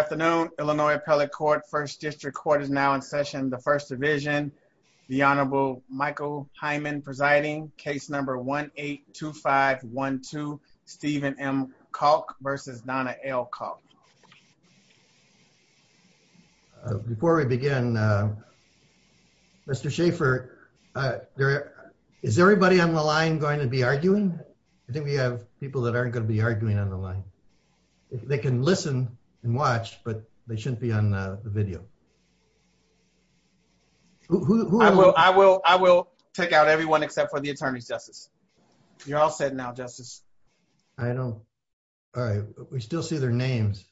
Afternoon, Illinois Appellate Court, 1st District Court is now in session, the 1st Division. The Honorable Michael Hyman presiding, case number 1-8-2512, Stephen M. Kalk versus Donna L. Kalk. Before we begin, Mr. Schaefer, is everybody on the line going to be arguing? I think we have people that aren't going to be arguing on the line. They can listen and watch, but they shouldn't be on the video. I will check out everyone except for the attorneys, Justice. You're all set now, Justice. I don't... All right. We still see their names.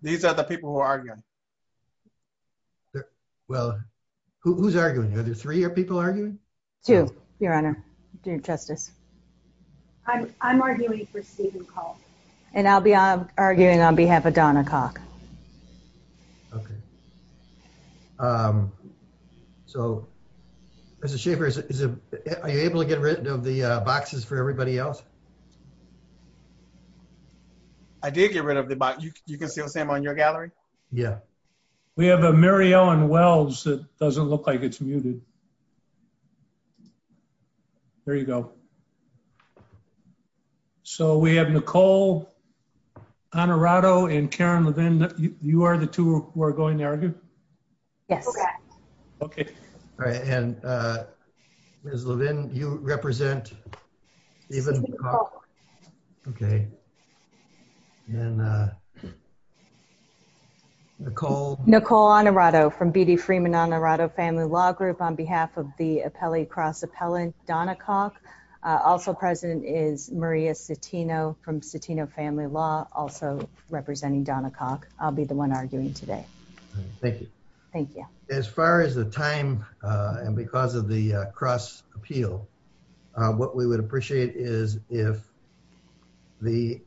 These are the people who are arguing. Well, who's arguing? Two, Your Honor. Justice. I'm arguing for the attorneys. I'm arguing for Stephen Kalk. And I'll be arguing on behalf of Donna Kalk. Okay. So, Mr. Schaefer, are you able to get rid of the boxes for everybody else? I did get rid of the boxes. You can see them on your gallery? Yeah. We have a Mary Ellen Wells that doesn't look like it's muted. There you go. So, we have Nicole Honorato and Karen Levin. You are the two who are going to argue? Yes. Okay. Okay. All right. And Ms. Levin, you represent Stephen Kalk. Okay. And Nicole... Nicole Honorato from B.D. Freeman Honorato Family Law Group on behalf of the appellee cross appellant Donna Kalk. Also present is Maria Citino from Citino Family Law, also representing Donna Kalk. I'll be the one arguing today. Thank you. Thank you. As far as the time, and because of the cross appeal, what we would appreciate is if the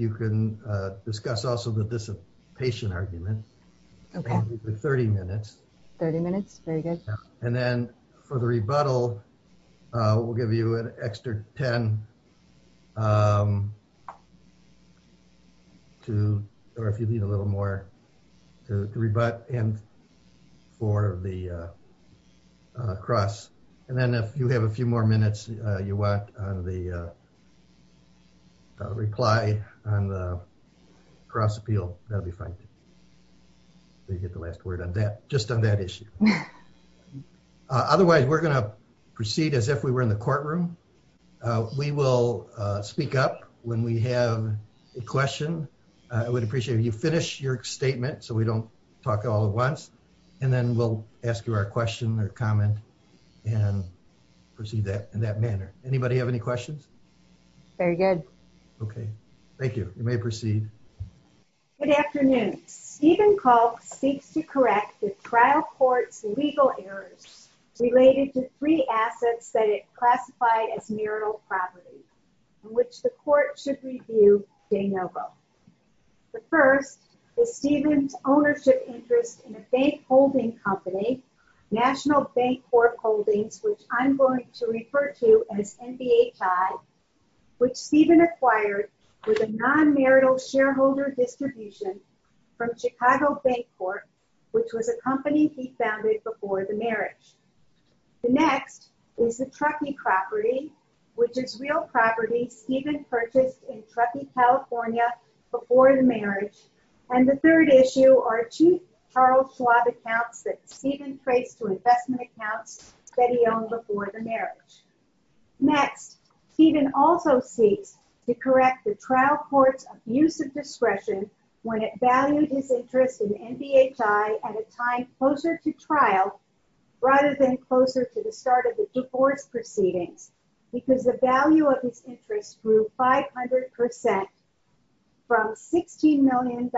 you can discuss also the dissipation argument. Okay. 30 minutes. 30 minutes? Very good. And then for the rebuttal, we'll give you an extra 10 to, or if you need a little more, to rebut and for the cross. And then if you have a few more minutes you want on the reply on the cross appeal, that'll be fine. You get the last word on that, just on that issue. Otherwise, we're going to proceed as if we were in the courtroom. We will speak up when we have a question. I would appreciate if you finish your statement so we don't talk all at once. And then we'll ask you our question or comment and proceed in that manner. Anybody have any questions? Very good. Okay. Thank you. You may proceed. Good afternoon. Stephen Kalk speaks to correct the trial court's legal errors related to three assets that it classified as marital property in which the court should review saying no vote. The first is Stephen's ownership interest in a bank holding company, National Bank Corp Holdings, which I'm going to refer to as NBHI, which Stephen acquired with a non-marital shareholder distribution from Chicago Bank Corp, which was a company he founded before the marriage. The next is the Truckee property, which is real property Stephen purchased in Truckee, California, before the marriage. And the third issue are two Charles Schwab accounts that Stephen traced to investment accounts that he owned before the marriage. Next, Stephen also speaks to correct the trial court's abuse of discretion when it valued his interest in NBHI at a time closer to trial rather than closer to the start of the divorce proceeding because the value of his interest grew 500% from $16 million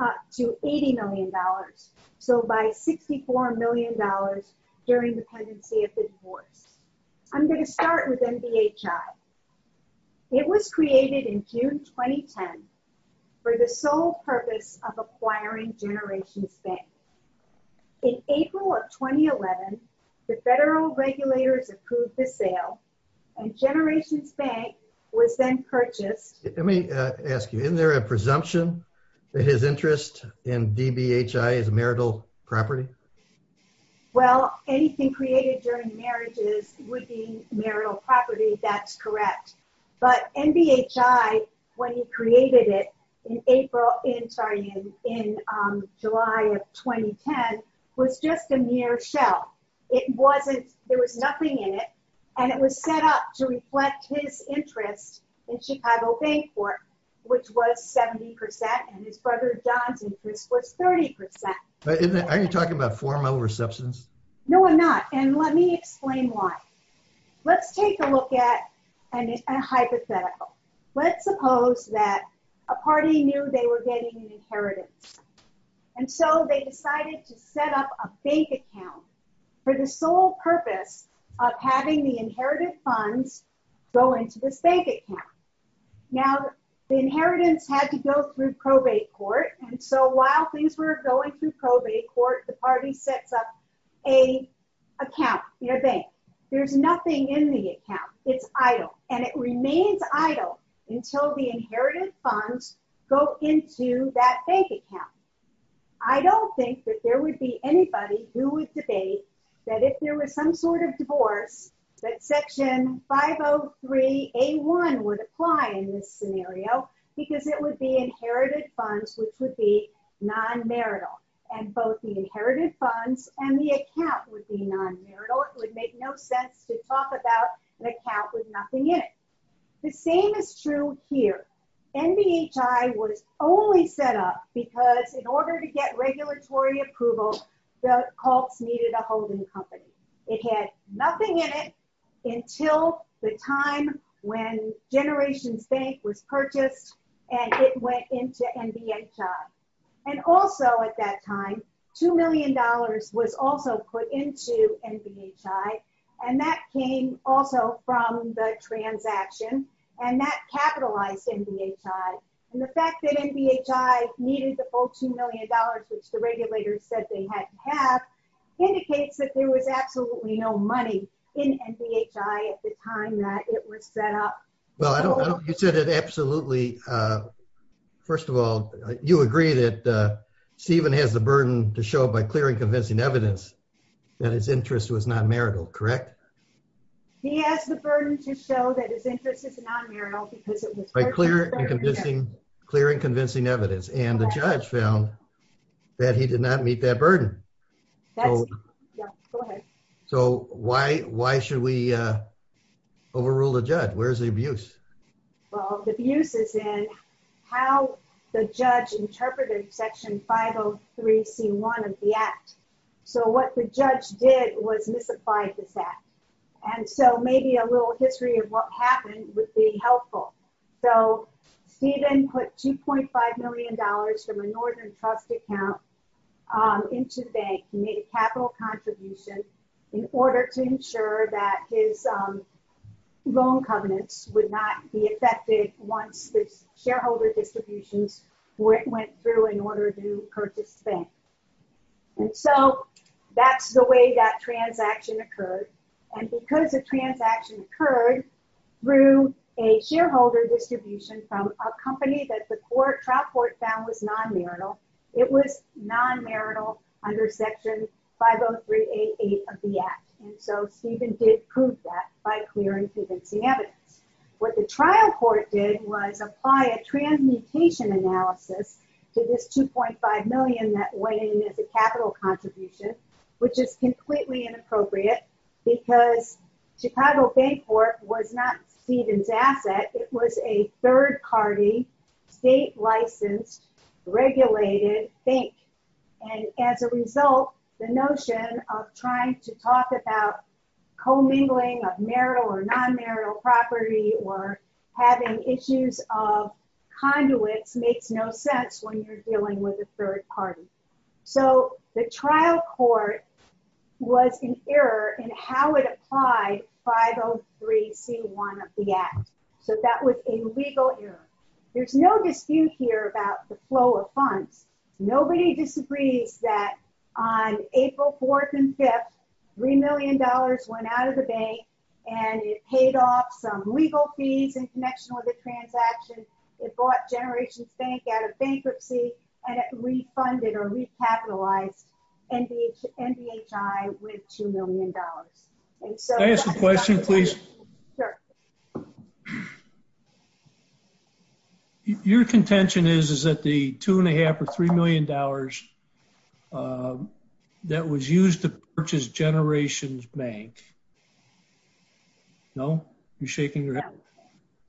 up to $80 million, so by $64 million during the pendency of his divorce. I'm going to start with NBHI. It was created in June 2010 for the sole purpose of acquiring Generations Bank. In April of 2011, the federal regulators approved the sale, and Generations Bank was then purchased. Let me ask you, isn't there a presumption that his interest in NBHI is marital property? Well, anything created during marriages would be marital property, that's correct. But NBHI, when he created it in July of 2010, was just a mere shell. It wasn't, there was nothing in it, and it was set up to reflect his interest in Chicago Bank for it, which was 70%, and his brother John's interest was 30%. Are you talking about formal receptions? No, I'm not, and let me explain why. Let's take a look at a hypothetical. Let's suppose that a party knew they were getting an inheritance, and so they decided to set up a bank account for the sole purpose of having the inherited funds go into this bank account. Now, the inheritance had to go through probate court, and so while things were going through probate court, the party sets up an account in a bank. There's nothing in the account. It's idle, and it remains idle until the inherited funds go into that bank account. I don't think that there would be anybody who would debate that if there was some sort that Section 503A1 would apply in this scenario, because it would be inherited funds, which would be non-marital, and both the inherited funds and the account would be non-marital. It would make no sense to talk about an account with nothing in it. The same is true here. NBHI was only set up because in order to get regulatory approval, the cult needed a holding company. It had nothing in it until the time when Generations Bank was purchased, and it went into NBHI. Also, at that time, $2 million was also put into NBHI, and that came also from the transaction, and that capitalized NBHI. The fact that NBHI needed the full $2 million, which the regulators said they had to have, indicates that there was absolutely no money in NBHI at the time that it was set up. Well, I don't think you said it absolutely. First of all, you agree that Stephen has the burden to show by clear and convincing evidence that his interest was non-marital, correct? He has the burden to show that his interest is non-marital because it was purchased by Generations Bank. By clear and convincing evidence, and the judge found that he did not meet that burden. Go ahead. So, why should we overrule the judge? Where's the abuse? Well, the abuse is in how the judge interpreted Section 503c1 of the Act. So, what the judge did was misapplied the fact, and so maybe a little history of what happened would be helpful. So, Stephen put $2.5 million from a Northern Trust account into the bank and made a capital contribution in order to ensure that his loan covenants would not be affected once the shareholder distribution went through in order to purchase the bank. And so, that's the way that transaction occurred. And because the transaction occurred through a shareholder distribution from a company that the trial court found was non-marital, it was non-marital under Section 503a8 of the Act. And so, Stephen did prove that by clear and convincing evidence. What the trial court did was apply a transmutation analysis to this $2.5 million that went into the capital contribution, which is completely inappropriate because Chicago Bank Corp. was not Stephen's asset. It was a third-party, state-licensed, regulated bank. And as a result, the notion of trying to talk about co-mingling of marital or non-marital property or having issues of conduits makes no sense when you're dealing with a third party. So, the trial court was in error in how it applied 503c1 of the Act. So, that was a legal error. There's no dispute here about the flow of funds. Nobody disagrees that on April 4th and 5th, $3 million went out of the bank and it paid off some legal fees in connection with the transaction. It bought Generations Bank out of bankruptcy and it refunded or recapitalized NBHI with $2 million. And so... Can I ask a question, please? Sure. Your contention is, is that the $2.5 or $3 million that was used to purchase Generations Bank... No? You're shaking your head.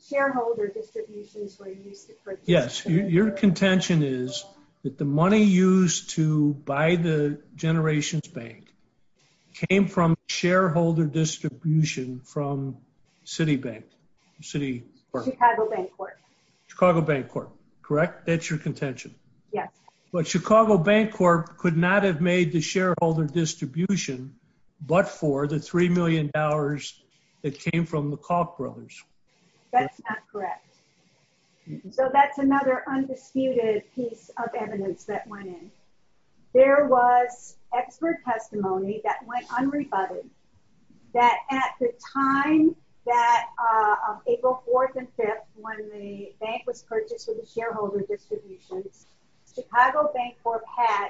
Shareholder distribution... Yes. Your contention is that the money used to buy the Generations Bank came from shareholder distribution from Citibank, Citibank. Chicago Bank Corp. Chicago Bank Corp. Correct? That's your contention? Yes. But Chicago Bank Corp. could not have made the shareholder distribution but for the $3 That's not correct. So that's another undisputed piece of evidence that went in. There was expert testimony that went unrebutted that at the time that April 4th and 5th, when the bank was purchasing the shareholder distribution, Chicago Bank Corp. had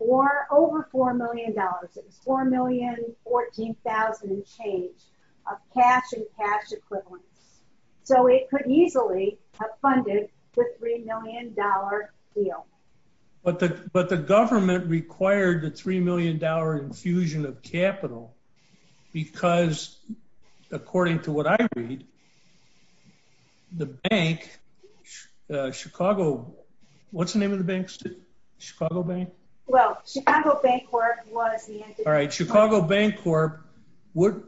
over $4 million. $4 million, $14,000 change of cash and cash equivalent. So it could easily have funded the $3 million deal. But the government required the $3 million infusion of capital because, according to what I read, the bank, Chicago... What's the name of the bank? Chicago Bank? Well, Chicago Bank Corp. was... All right. Chicago Bank Corp. would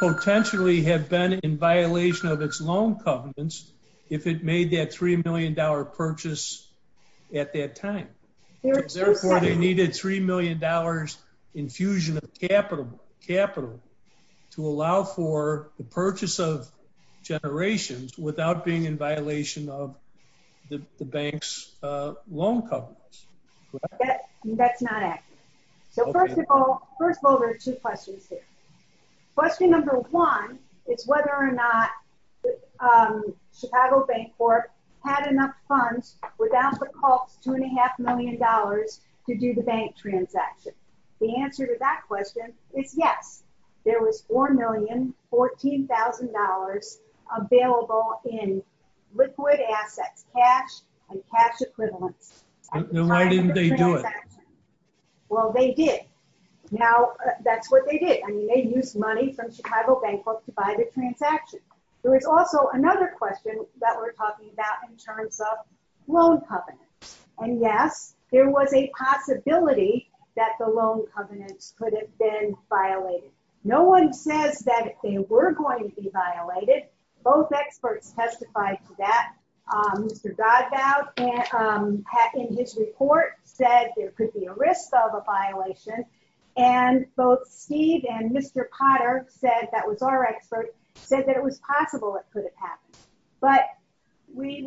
potentially have been in violation of its loan covenants if it made that $3 million purchase at that time. Therefore, they needed $3 million infusion of capital to allow for the purchase of Generations without being in violation of the bank's loan covenants. Correct. That's not accurate. Okay. So first of all... First of all, there's two questions here. Question number one is whether or not Chicago Bank Corp. had enough funds without the cost of $2.5 million to do the bank transaction. The answer to that question is yes. There was $4 million, $14,000 available in liquid assets, cash and cash equivalent. Why didn't they do it? Well, they did. Now, that's what they did. I mean, they used money from Chicago Bank Corp. to buy the transaction. There was also another question that we're talking about in terms of loan covenants. And yes, there was a possibility that the loan covenants could have been violated. No one says that they were going to be violated. Both experts testified to that. Mr. Godbout, in his report, said there could be a risk of a violation. And both Steve and Mr. Potter said, that was our expert, said that it was possible it could have happened. But they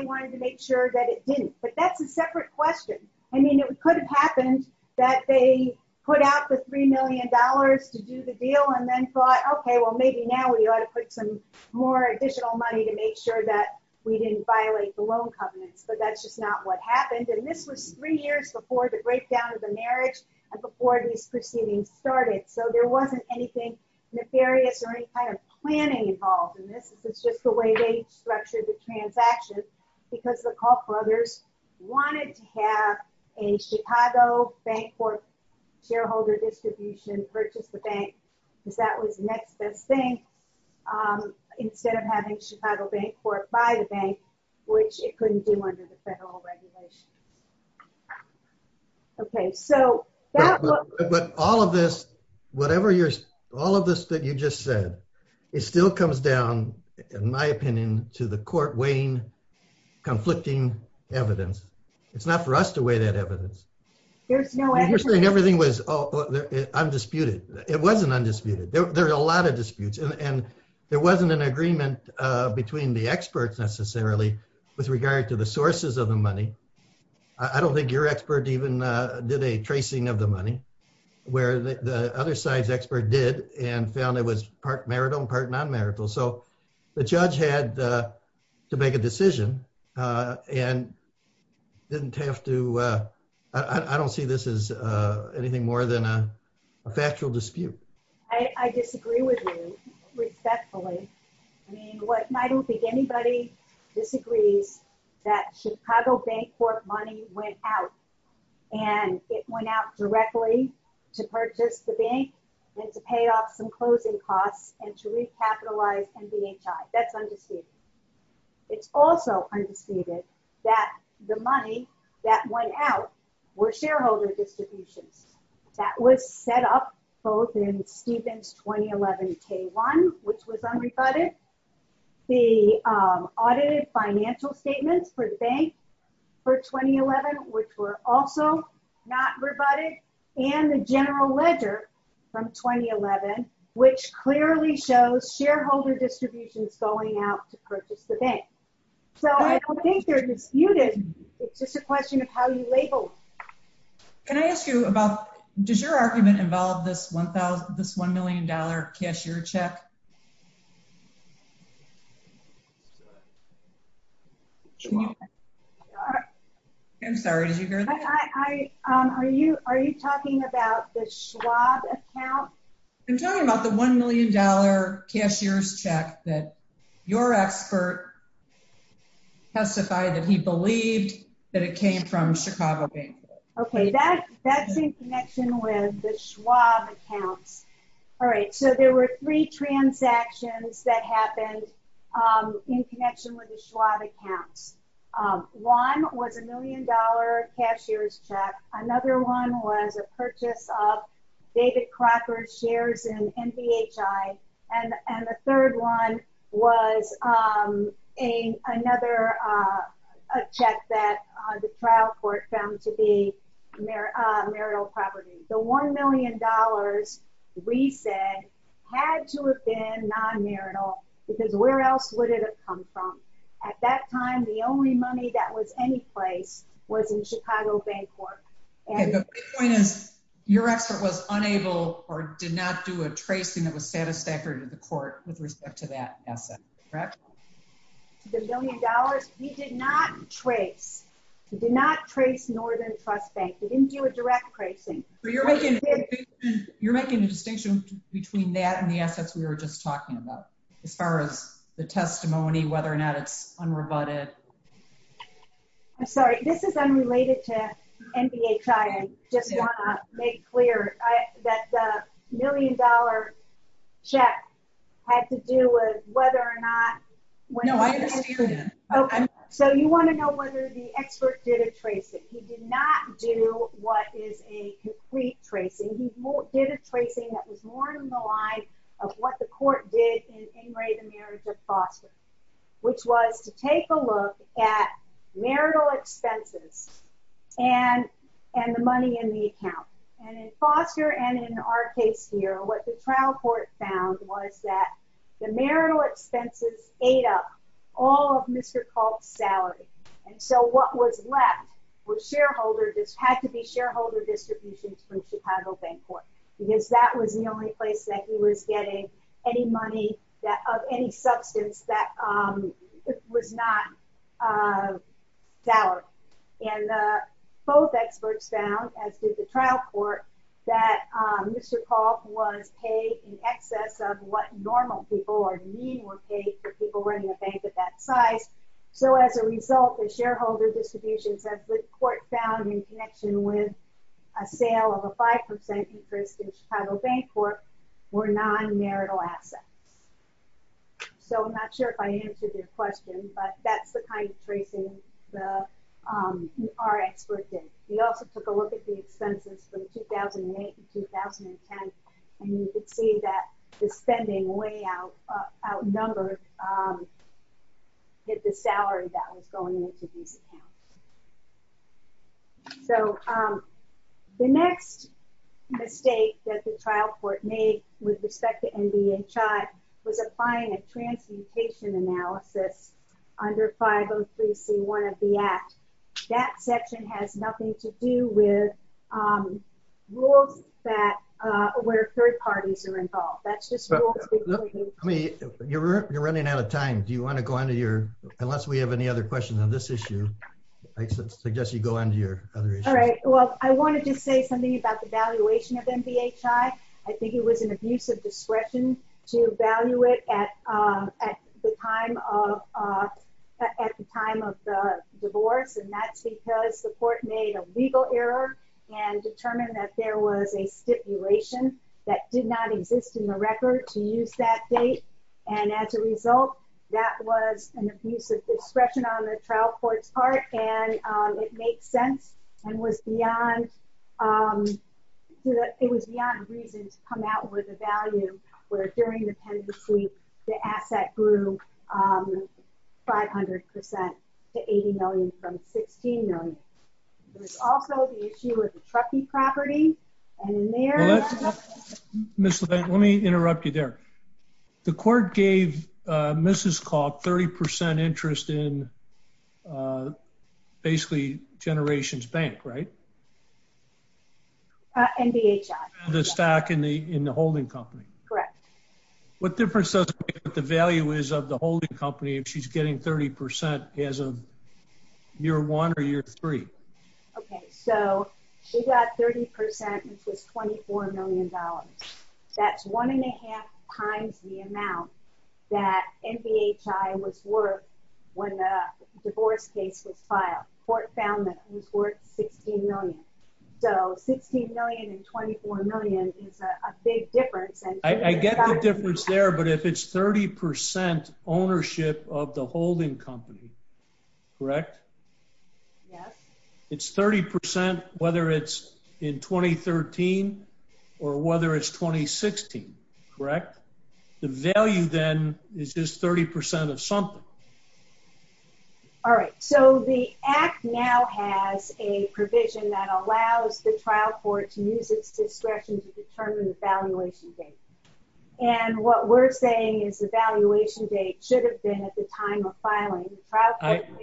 wanted to make sure that it didn't. But that's a separate question. I mean, it could have happened that they put out the $3 million to do the deal and then thought, okay, well, maybe now we ought to put some more additional money to make sure that we didn't violate the loan covenants. But that's just not what happened. And this was three years before the breakdown of the marriage and before these proceedings started. So there wasn't anything nefarious or any kind of planning involved in this. This is just the way they structured the transactions because the Kauffbrothers wanted to have a Chicago Bank Corp. shareholder distribution, purchase the bank, because that was the next best thing, instead of having Chicago Bank Corp. buy the bank, which it couldn't do under the federal regulations. Okay, so that was ‑‑ But all of this, whatever you're ‑‑ all of this that you just said, it still comes down, in my opinion, to the court weighing conflicting evidence. It's not for us to weigh that evidence. First thing, everything was undisputed. It wasn't undisputed. There were a lot of disputes, and there wasn't an agreement between the experts necessarily with regard to the sources of the money. I don't think your expert even did a tracing of the money, where the other side's expert did and found it was part marital and part nonmarital. So the judge had to make a decision and didn't have to ‑‑ I don't see this as anything more than a factual dispute. I disagree with you, respectfully. I don't think anybody disagrees that Chicago Bank Corp money went out, and it went out directly to purchase the bank and to pay off some closing costs and to recapitalize NBHI. That's undisputed. It's also undisputed that the money that went out were shareholder distributions. That was set up both in Stephen's 2011 K‑1, which was unrebutted, the audited financial statements for the bank for 2011, which were also not rebutted, and the general ledger from 2011, which clearly shows shareholder distributions going out to purchase the bank. So I don't think they're disputed. It's just a question of how you label them. Can I ask you about ‑‑ does your argument involve this $1 million cashier check? I'm sorry. Did you hear that? Are you talking about the Schwab account? I'm talking about the $1 million cashier's check that your expert testified that he believed that it came from Chicago Bank. Okay. That's in connection with the Schwab account. All right. So there were three transactions that happened in connection with the Schwab account. One was a million dollar cashier's check. Another one was a purchase of David Crawford's shares in MPHI, and the third one was another check that the trial court found to be marital property. So $1 million, we said, had to have been non‑marital, because where else would it have come from? At that time, the only money that was anyplace was in Chicago Bank work. Okay. So your expert was unable or did not do a tracing that was satisfactory to the court with respect to that asset, correct? The million dollars, he did not trace. He did not trace Northern Trust Bank. He didn't do a direct tracing. You're making a distinction between that and the assets we were just talking about as far as the testimony, whether or not it's unrebutted. I'm sorry. This is unrelated to MPHI. I just want to make clear that the million dollar check had to do with whether or not ‑‑ No, I didn't hear that. Okay. So you want to know whether the expert did a tracing. Correct. He did not do what is a complete tracing. He did a tracing that was more in the line of what the court did in In Re, the Marriage of Foster, which was to take a look at marital expenses and the money in the account. And in Foster and in our case here, what the trial court found was that the marital expenses ate up all of Mr. Kalt's salary. And so what was left was shareholder ‑‑ had to be shareholder distributions from Chicago Bank Corp. Because that was the only place that he was getting any money of any substance that was not salaried. And both experts found, as did the trial court, that Mr. Kalt was paid in excess of what normal people or mean were paid for people running a bank at that price. So as a result, the shareholder distributions that the court found in connection with a sale of a 5% interest in Chicago Bank Corp. were non‑marital assets. So I'm not sure if I answered your question, but that's the kind of tracing our expert did. We also took a look at the expenses from 2008 and 2010, and you can see that the spending way outnumbered the salary that was going into these accounts. So the next mistake that the trial court made with respect to NBHI was applying a transmutation analysis under 503C1 of the Act. That section has nothing to do with rules where third parties are involved. You're running out of time. Do you want to go on to your ‑‑ unless we have any other questions on this issue, I suggest you go on to your other issue. All right. Well, I wanted to say something about the valuation of NBHI. I think it was an abuse of discretion to value it at the time of the divorce. And that's because the court made a legal error and determined that there was a stipulation that did not exist in the record to use that date. And as a result, that was an abuse of discretion on the trial court's part, and it makes sense and was beyond ‑‑ it was beyond reason to come out with a value where during the penalty sweep, the asset grew 500% to $80 million from $16 million. There's also the issue of trustee property. And in there ‑‑ Ms. Levine, let me interrupt you there. The court gave Mrs. Koch 30% interest in basically Generations Bank, right? NBHI. The stock in the holding company. Correct. What difference does it make what the value is of the holding company if she's getting 30% as of year one or year three? Okay. So she got 30% which is $24 million. That's one and a half times the amount that NBHI was worth when the divorce case was filed. The court found that it was worth $16 million. So $16 million and $24 million is a big difference. I get the difference there, but if it's 30% ownership of the holding company, correct? Yes. It's 30% whether it's in 2013 or whether it's 2016, correct? The value then is just 30% of something. All right. So the act now has a provision that allows the trial court to use its discretion to determine the valuation date. And what we're saying is the valuation date should have been at the time of filing.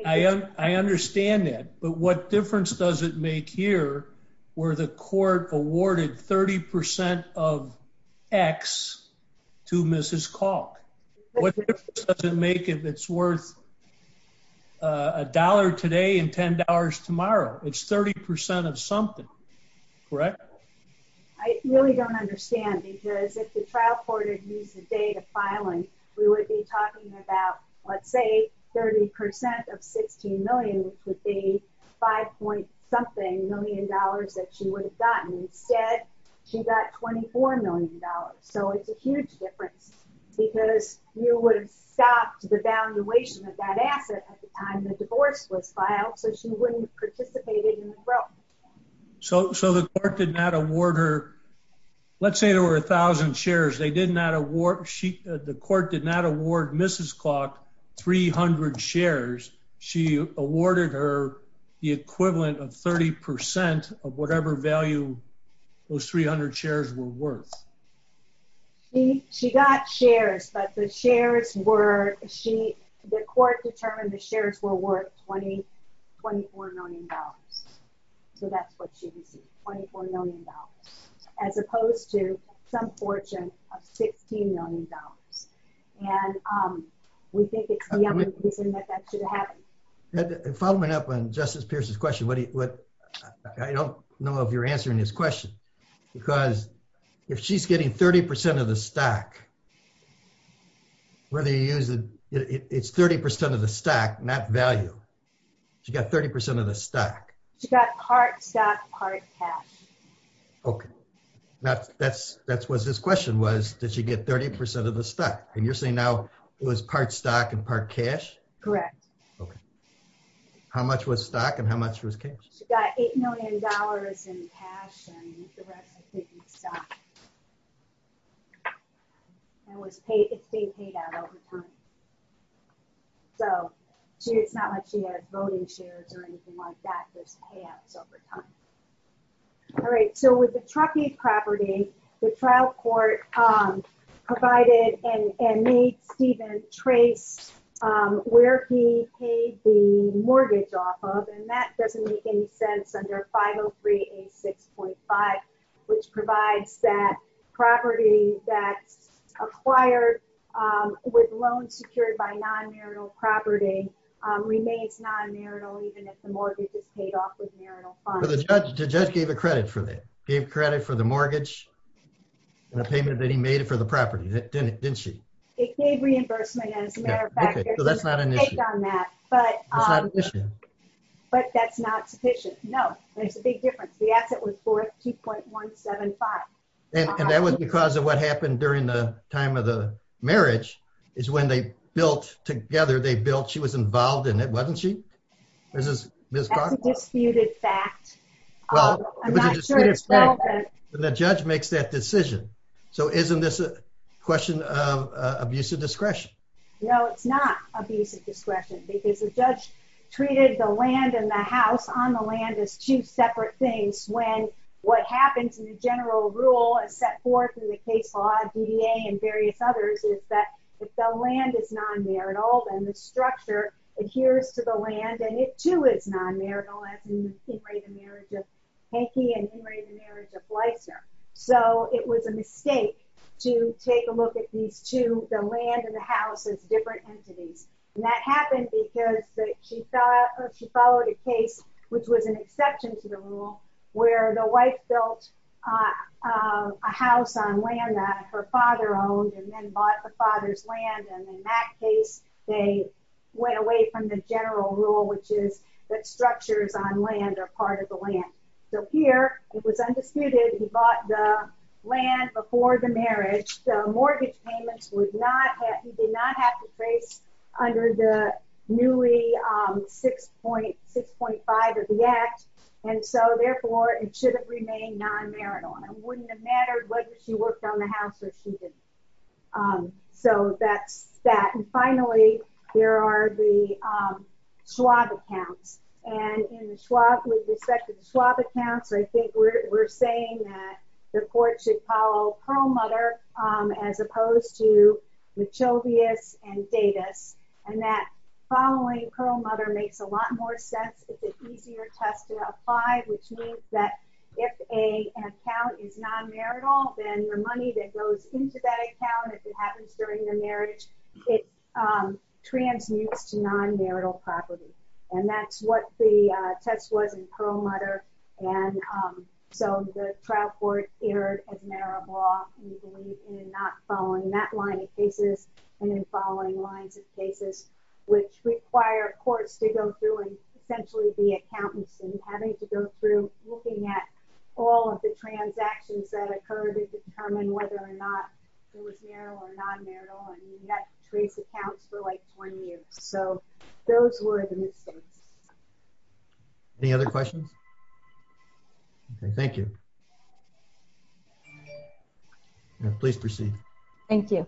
I understand that. But what difference does it make here where the court awarded 30% of X to Mrs. Kalk? What difference does it make if it's worth $1 today and $10 tomorrow? It's 30% of something, correct? I really don't understand because if the trial court had used the date of filing, we would be talking about, let's say, 30% of $16 million which would be $5.something million that she would have gotten. Instead, she got $24 million. So it's a huge difference because you would have stopped the valuation of that asset at the time the divorce was filed so she wouldn't have participated in the growth. So the court did not award her – let's say there were 1,000 shares. The court did not award Mrs. Kalk 300 shares. She awarded her the equivalent of 30% of whatever value those 300 shares were worth. She got shares, but the shares were – the court determined the shares were worth $24 million. So that's what she received, $24 million, as opposed to some fortune of $16 million. And we think it's the only reason that that should have happened. And following up on Justice Pierce's question, I don't know if you're answering this question because if she's getting 30% of the stock, whether you use – it's 30% of the stock, not value. She got 30% of the stock. She got part stock, part cash. Okay. That's what this question was, that she'd get 30% of the stock. And you're saying now it was part stock and part cash? Correct. Okay. How much was stock and how much was cash? She got $8 million in cash and the rest was taken stock. And it was paid out over time. So she did not have to have voting shares or anything like that to pay out over time. All right. So with the Truckee property, the trial court provided and made Stephen trace where he paid the mortgage off of, and that certainly extends under 50386.5, which provides that property that acquired with loans secured by non-marital property remains non-marital even if the mortgage is paid off with marital funds. So the judge gave the credit for that. Gave credit for the mortgage and the payment that he made for the property, didn't she? It paid reimbursement, as a matter of fact. Okay. So that's not an issue. But that's not sufficient. No. That's a big difference. The asset was 4,2.175. And that was because of what happened during the time of the marriage is when they built together, they built – she was involved in it, wasn't she? That's a disputed fact. I'm not sure it's relevant. The judge makes that decision. So isn't this a question of abuse of discretion? No, it's not abuse of discretion. The judge treated the land and the house on the land as two separate things when what happens in the general rule set forth in the case law, DDA, and various others is that if the land is non-marital, then the structure adheres to the land, and it, too, is non-marital. It was a mistake to take a look at these two, the land and the house, as different entities. And that happened because she followed a case, which was an exception to the rule, where the wife built a house on land that her father owned and then bought the father's land. And in that case, they went away from the general rule, which is that structures on land are part of the land. So here, it was undisputed, he bought the land before the marriage, so mortgage payments would not – he did not have to pay under the newly 6.5 of the Act, and so, therefore, it should have remained non-marital. It wouldn't have mattered whether she worked on the house or she didn't. So that's that. And finally, there are the Schwab accounts. And in the Schwab – with respect to the Schwab accounts, I think we're saying that the court should follow Perlmutter as opposed to Machovius and Davis. And that following Perlmutter makes a lot more sense. It's an easier test to apply, which means that if an account is non-marital, then the money that goes into that account, if it happens during the marriage, it transmutes to non-marital property. And that's what the test was in Perlmutter, and so the trial court erred as a matter of law in not following that line of cases and then following lines of cases, which require courts to go through and essentially be accountants and having to go through looking at all of the transactions that occurred to determine whether or not it was marital or non-marital, and that creates accounts for like one year. So those were the mistakes. Any other questions? Okay, thank you. Please proceed. Thank you.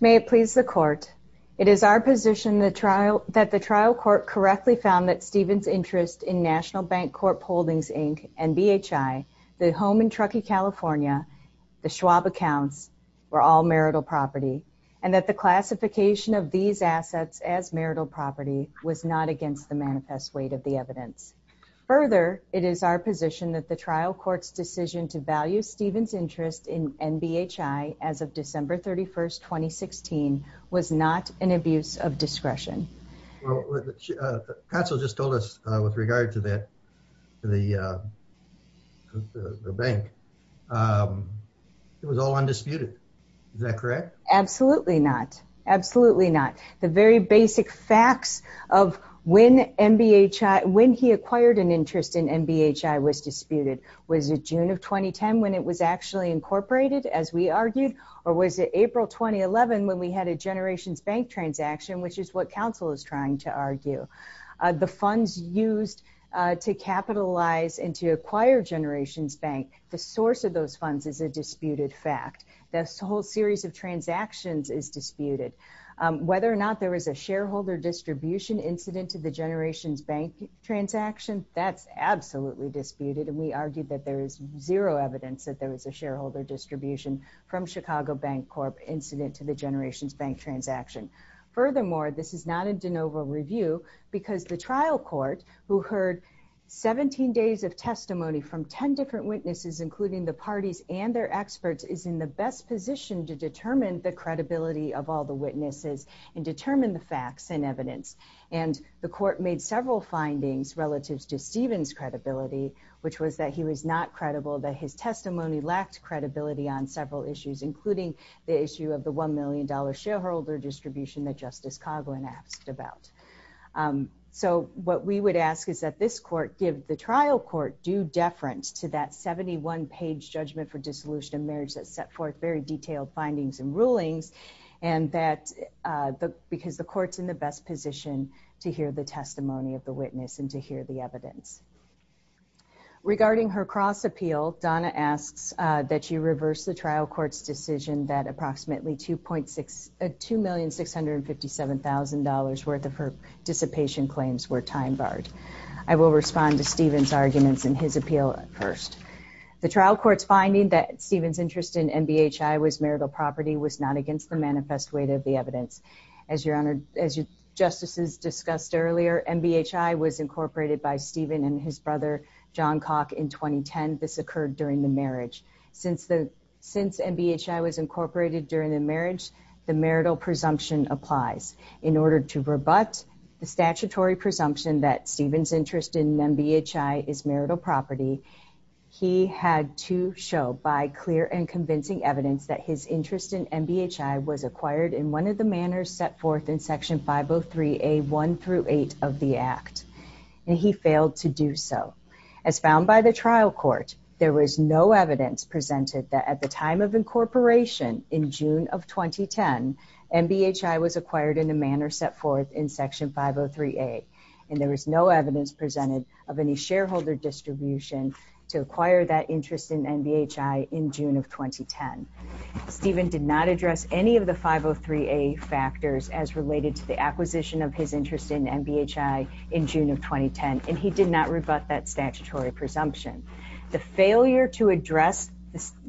May it please the court, it is our position that the trial court correctly found that Stephen's interest in National Bank Corp Holdings, Inc. and BHI, the home in Truckee, California, the Schwab account, were all marital property, and that the classification of these assets as marital property was not against the manifest weight of the evidence. Further, it is our position that the trial court's decision to value Stephen's interest in NBHI as of December 31, 2016, was not an abuse of discretion. Counsel just told us with regard to the bank, it was all undisputed. Is that correct? The funds used to capitalize and to acquire Generations Bank, the source of those funds is a disputed fact. This whole series of transactions is disputed. Whether or not there was a shareholder distribution incident to the Generations Bank transactions, that's absolutely disputed, and we argue that there is zero evidence that there was a shareholder distribution from Chicago Bank Corp incident to the Generations Bank transaction. Furthermore, this is not a de novo review, because the trial court, who heard 17 days of testimony from 10 different witnesses, including the parties and their experts, is in the best position to determine the credibility of all the witnesses and determine the facts and evidence. The court made several findings relative to Stephen's credibility, which was that he was not credible, that his testimony lacked credibility on several issues, including the issue of the $1 million shareholder distribution that Justice Coghlan asked about. So what we would ask is that this court give the trial court due deference to that 71-page judgment for dissolution of marriage that set forth very detailed findings and rulings, because the court's in the best position to hear the testimony of the witness and to hear the evidence. Regarding her cross appeal, Donna asks that you reverse the trial court's decision that approximately $2,657,000 worth of her dissipation claims were time barred. I will respond to Stephen's arguments in his appeal first. The trial court's finding that Stephen's interest in MBHI was marital property was not against her manifest weight of the evidence. As justices discussed earlier, MBHI was incorporated by Stephen and his brother, John Coghlan, in 2010. This occurred during the marriage. Since MBHI was incorporated during the marriage, the marital presumption applies. In order to rebut the statutory presumption that Stephen's interest in MBHI is marital property, he had to show by clear and convincing evidence that his interest in MBHI was acquired in one of the manners set forth in Section 503A1-8 of the Act. He failed to do so. As found by the trial court, there was no evidence presented that at the time of incorporation in June of 2010, MBHI was acquired in a manner set forth in Section 503A, and there was no evidence presented of any shareholder distribution to acquire that interest in MBHI in June of 2010. Stephen did not address any of the 503A factors as related to the acquisition of his interest in MBHI in June of 2010, and he did not rebut that statutory presumption. The failure to address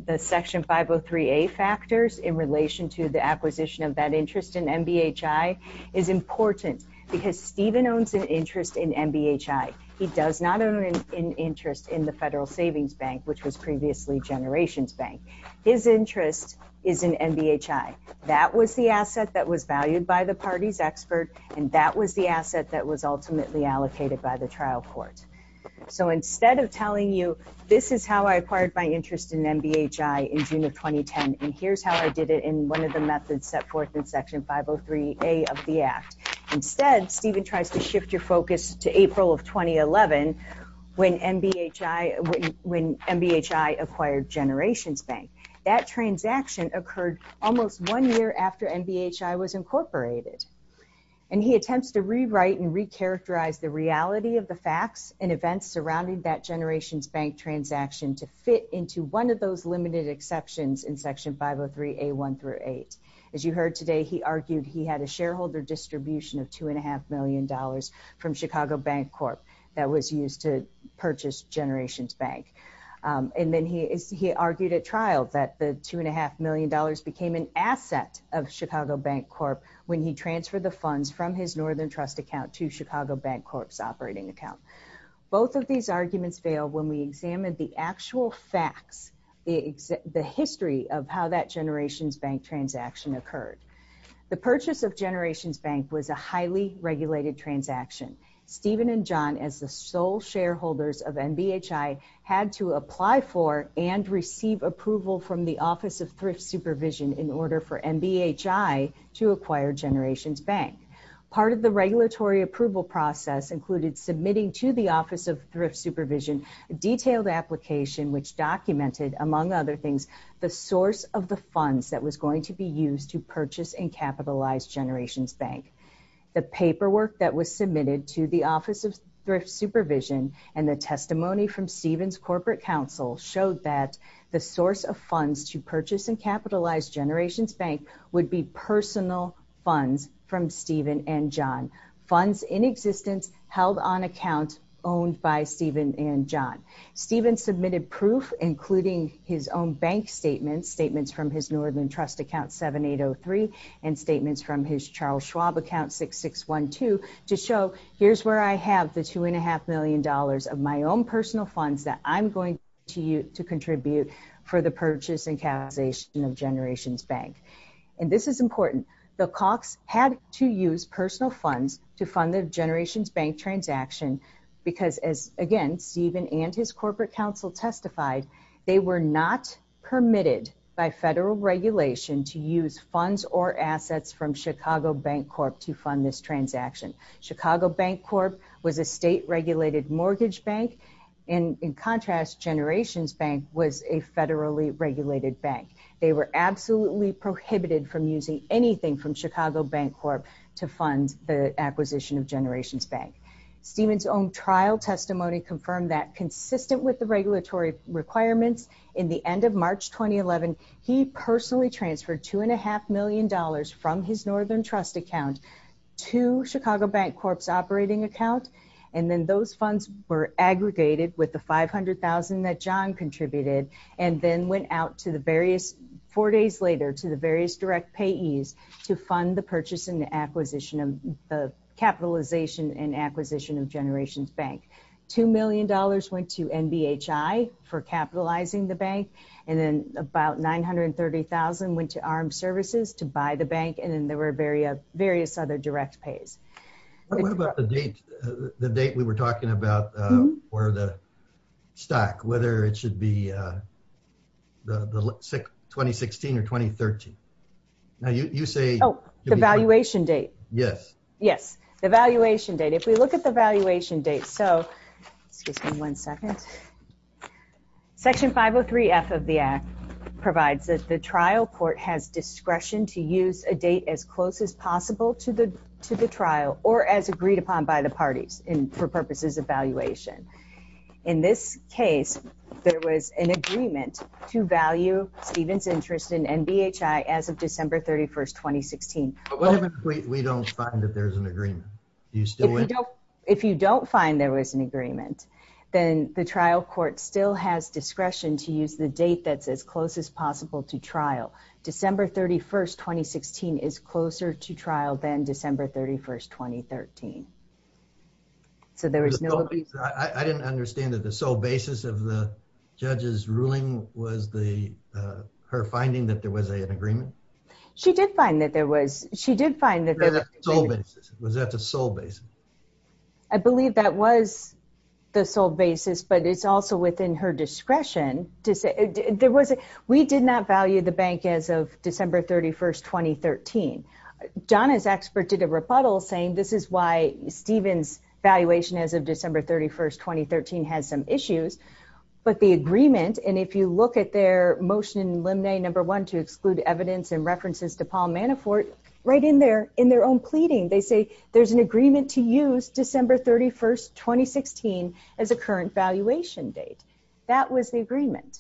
the Section 503A factors in relation to the acquisition of that interest in MBHI is important because Stephen owns an interest in MBHI. He does not own an interest in the Federal Savings Bank, which was previously Generations Bank. His interest is in MBHI. That was the asset that was valued by the party's expert, and that was the asset that was ultimately allocated by the trial court. So instead of telling you, this is how I acquired my interest in MBHI in June of 2010, and here's how I did it in one of the methods set forth in Section 503A of the Act, instead Stephen tries to shift your focus to April of 2011 when MBHI acquired Generations Bank. That transaction occurred almost one year after MBHI was incorporated, and he attempts to rewrite and recharacterize the reality of the facts and events surrounding that Generations Bank transaction to fit into one of those limited exceptions in Section 503A1-8. As you heard today, he argued he had a shareholder distribution of $2.5 million from Chicago Bank Corp. that was used to purchase Generations Bank, and then he argued at trial that the $2.5 million became an asset of Chicago Bank Corp. when he transferred the funds from his Northern Trust account to Chicago Bank Corp.'s operating account. Both of these arguments fail when we examine the actual facts, the history of how that Generations Bank transaction occurred. The purchase of Generations Bank was a highly regulated transaction. Stephen and John, as the sole shareholders of MBHI, had to apply for and receive approval from the Office of Thrift Supervision in order for MBHI to acquire Generations Bank. Part of the regulatory approval process included submitting to the Office of Thrift Supervision a detailed application which documented, among other things, the source of the funds that was going to be used to purchase and capitalize Generations Bank. The paperwork that was submitted to the Office of Thrift Supervision and the testimony from Stephen's corporate counsel showed that the source of funds to purchase and capitalize Generations Bank would be personal funds from Stephen and John, funds in existence held on accounts owned by Stephen and John. Stephen submitted proof, including his own bank statements, statements from his Northern Trust account 7803 and statements from his Charles Schwab account 6612, to show, here's where I have the $2.5 million of my own personal funds that I'm going to use to contribute for the purchase and capitalization of Generations Bank. And this is important. The Cox had to use personal funds to fund the Generations Bank transaction because, as again, Stephen and his corporate counsel testified, they were not permitted by federal regulation to use funds or assets from Chicago Bank Corp to fund this transaction. Chicago Bank Corp was a state-regulated mortgage bank, and in contrast, Generations Bank was a federally regulated bank. They were absolutely prohibited from using anything from Chicago Bank Corp to fund the acquisition of Generations Bank. Stephen's own trial testimony confirmed that, consistent with the regulatory requirements, in the end of March 2011, he personally transferred $2.5 million from his Northern Trust account to Chicago Bank Corp's operating account. And then those funds were aggregated with the $500,000 that John contributed and then went out to the various, four days later, to the various direct payees to fund the purchase and the acquisition of, the capitalization and acquisition of Generations Bank. $2 million went to NBHI for capitalizing the bank, and then about $930,000 went to Armed Services to buy the bank, and then there were various other direct pays. What about the date we were talking about for the stock, whether it should be 2016 or 2013? Oh, the valuation date. Yes. Yes, the valuation date. Section 503F of the Act provides that the trial court has discretion to use a date as close as possible to the trial or as agreed upon by the parties for purposes of valuation. In this case, there was an agreement to value Stephen's interest in NBHI as of December 31, 2016. But what if we don't find that there's an agreement? If you don't find there was an agreement, then the trial court still has discretion to use the date that's as close as possible to trial. December 31, 2016 is closer to trial than December 31, 2013. I didn't understand that the sole basis of the judge's ruling was her finding that there was an agreement? She did find that there was. Was that the sole basis? I believe that was the sole basis, but it's also within her discretion. We did not value the bank as of December 31, 2013. Donna's expert did a rebuttal saying this is why Stephen's valuation as of December 31, 2013 had some issues. But the agreement, and if you look at their motion limine number one to exclude evidence and references to Paul Manafort, right in their own pleading, they say there's an agreement to use December 31, 2016 as the current valuation date. That was the agreement.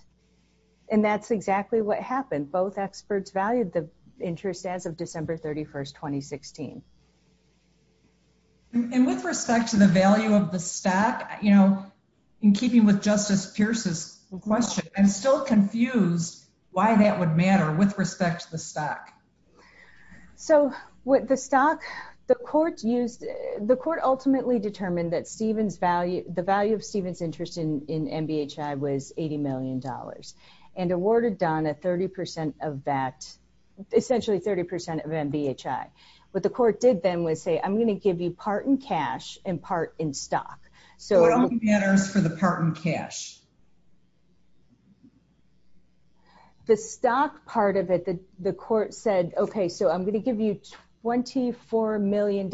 And that's exactly what happened. Both experts valued the interest as of December 31, 2016. And with respect to the value of the stock, in keeping with Justice Pierce's question, I'm still confused why that would matter with respect to the stock. So with the stock, the court ultimately determined that the value of Stephen's interest in MBHI was $80 million. And awarded Donna 30% of that, essentially 30% of MBHI. What the court did then was say I'm going to give you part in cash and part in stock. So what matters for the part in cash? The stock part of it, the court said, okay, so I'm going to give you $24 million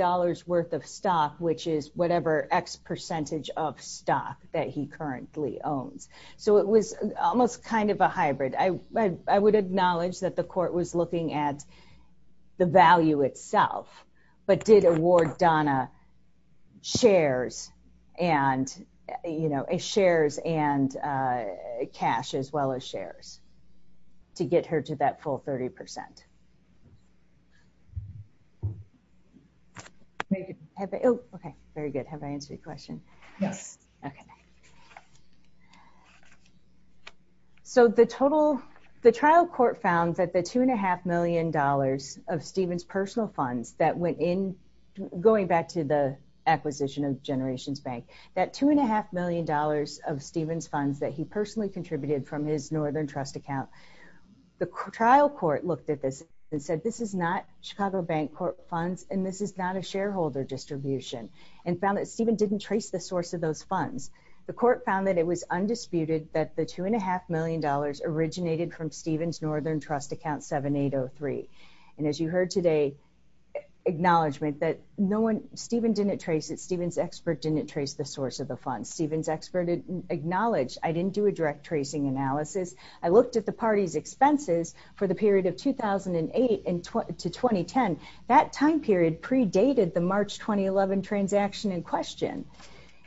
worth of stock, which is whatever X percentage of stock that he currently owns. So it was almost kind of a hybrid. I would acknowledge that the court was looking at the value itself, but did award Donna shares and cash as well as shares to get her to that full 30%. Very good. Have I answered your question? Yes. Okay. So the trial court found that the $2.5 million of Stephen's personal funds that went in, going back to the acquisition of Generations Bank, that $2.5 million of Stephen's funds that he personally contributed from his Northern Trust account, the trial court looked at this and said this is not Chicago Bank Corp funds and this is not a shareholder distribution. And found that Stephen didn't trace the source of those funds. The court found that it was undisputed that the $2.5 million originated from Stephen's Northern Trust account 7803. And as you heard today, acknowledgement that Stephen didn't trace it, Stephen's expert didn't trace the source of the funds. Stephen's expert acknowledged I didn't do a direct tracing analysis. I looked at the party's expenses for the period of 2008 to 2010. That time period predated the March 2011 transaction in question.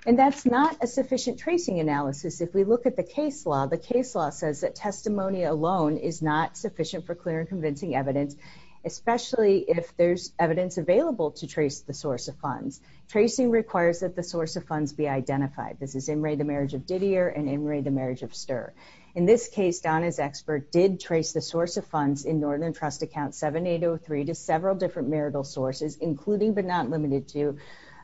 And that's not a sufficient tracing analysis. If we look at the case law, the case law says that testimony alone is not sufficient for clear and convincing evidence, especially if there's evidence available to trace the source of funds. Tracing requires that the source of funds be identified. This is in re the marriage of Gidear and in re the marriage of Sturr. In this case, Donna's expert did trace the source of funds in Northern Trust account 7803 to several different marital sources, including but not limited to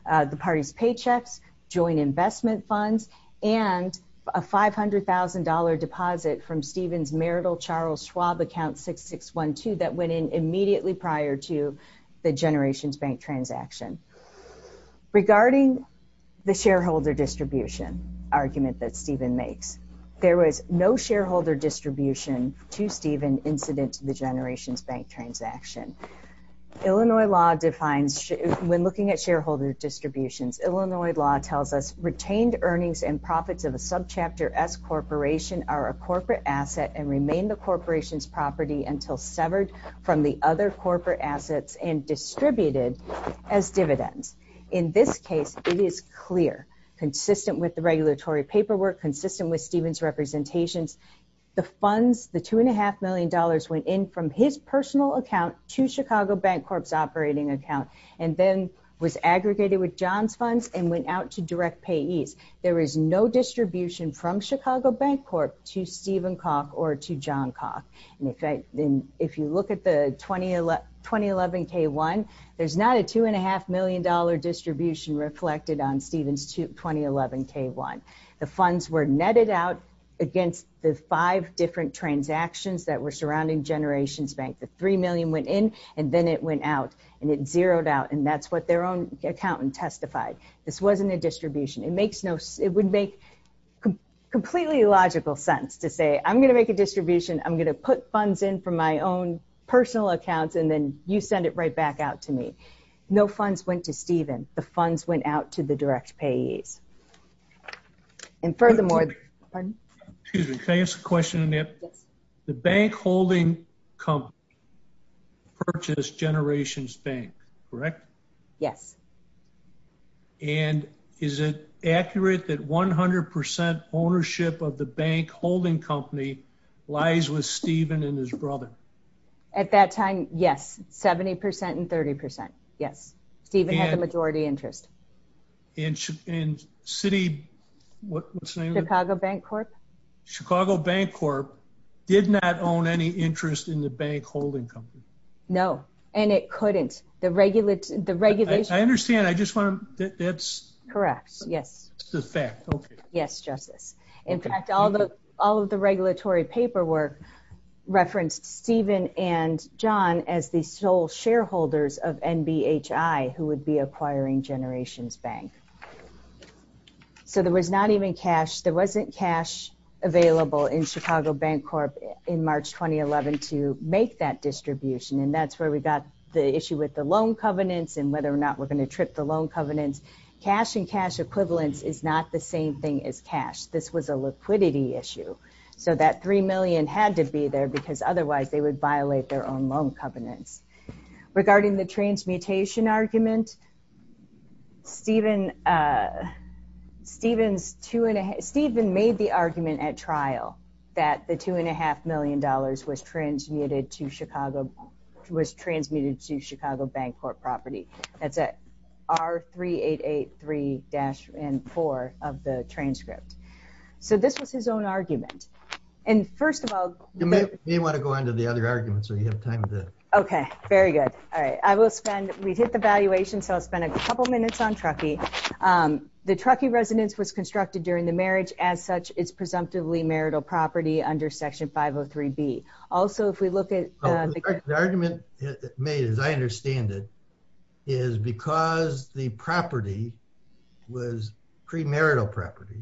the party's paychecks, joint investment funds, and a $500,000 deposit from Stephen's marital Charles Schwab account 6612 that went in immediately prior to the Generations Bank transaction. Regarding the shareholder distribution argument that Stephen makes, there was no shareholder distribution to Stephen incident to the Generations Bank transaction. Illinois law defines when looking at shareholder distributions, Illinois law tells us retained earnings and profits of a subchapter S corporation are a corporate asset and remain the corporation's property until severed from the other corporate assets and distributed as dividends. In this case, it is clear, consistent with the regulatory paperwork, consistent with Stephen's representation, the funds, the $2.5 million went in from his personal account to Chicago Bank Corp's operating account and then was aggregated with John's funds and went out to direct payees. There is no distribution from Chicago Bank Corp to Stephen Koch or to John Koch. If you look at the 2011 K-1, there's not a $2.5 million distribution reflected on Stephen's 2011 K-1. The funds were netted out against the five different transactions that were surrounding Generations Bank. The $3 million went in and then it went out and it zeroed out and that's what their own accountant testified. This wasn't a distribution. It would make completely logical sense to say, I'm going to make a distribution, I'm going to put funds in from my own personal account and then you send it right back out to me. No funds went to Stephen. The funds went out to the direct payees. Excuse me, can I ask a question, Annette? The bank holding company purchased Generations Bank, correct? Yes. And is it accurate that 100% ownership of the bank holding company lies with Stephen and his brother? At that time, yes, 70% and 30%, yes. Stephen had the majority interest. Chicago Bank Corp? Chicago Bank Corp did not own any interest in the bank holding company. No, and it couldn't. I understand. Correct, yes. It's a fact, okay. Yes, Justice. In fact, all of the regulatory paperwork referenced Stephen and John as the sole shareholders of NBHI who would be acquiring Generations Bank. So there was not even cash, there wasn't cash available in Chicago Bank Corp in March 2011 to make that distribution and that's where we got the issue with the loan covenants and whether or not we're going to trip the loan covenants. Cash and cash equivalents is not the same thing as cash. This was a liquidity issue. So that $3 million had to be there because otherwise they would violate their own loan covenants. Regarding the transmutation argument, Stephen made the argument at trial that the $2.5 million was transmuted to Chicago Bank Corp property. That's R3883-N4 of the transcript. So this was his own argument. And first of all... You may want to go into the other arguments so you have time to... Okay, very good. All right. I will spend... We hit the valuation, so I'll spend a couple minutes on Truckee. The Truckee residence was constructed during the marriage. As such, it's presumptively marital property under Section 503B. Also, if we look at... The argument made, as I understand it, is because the property was premarital property,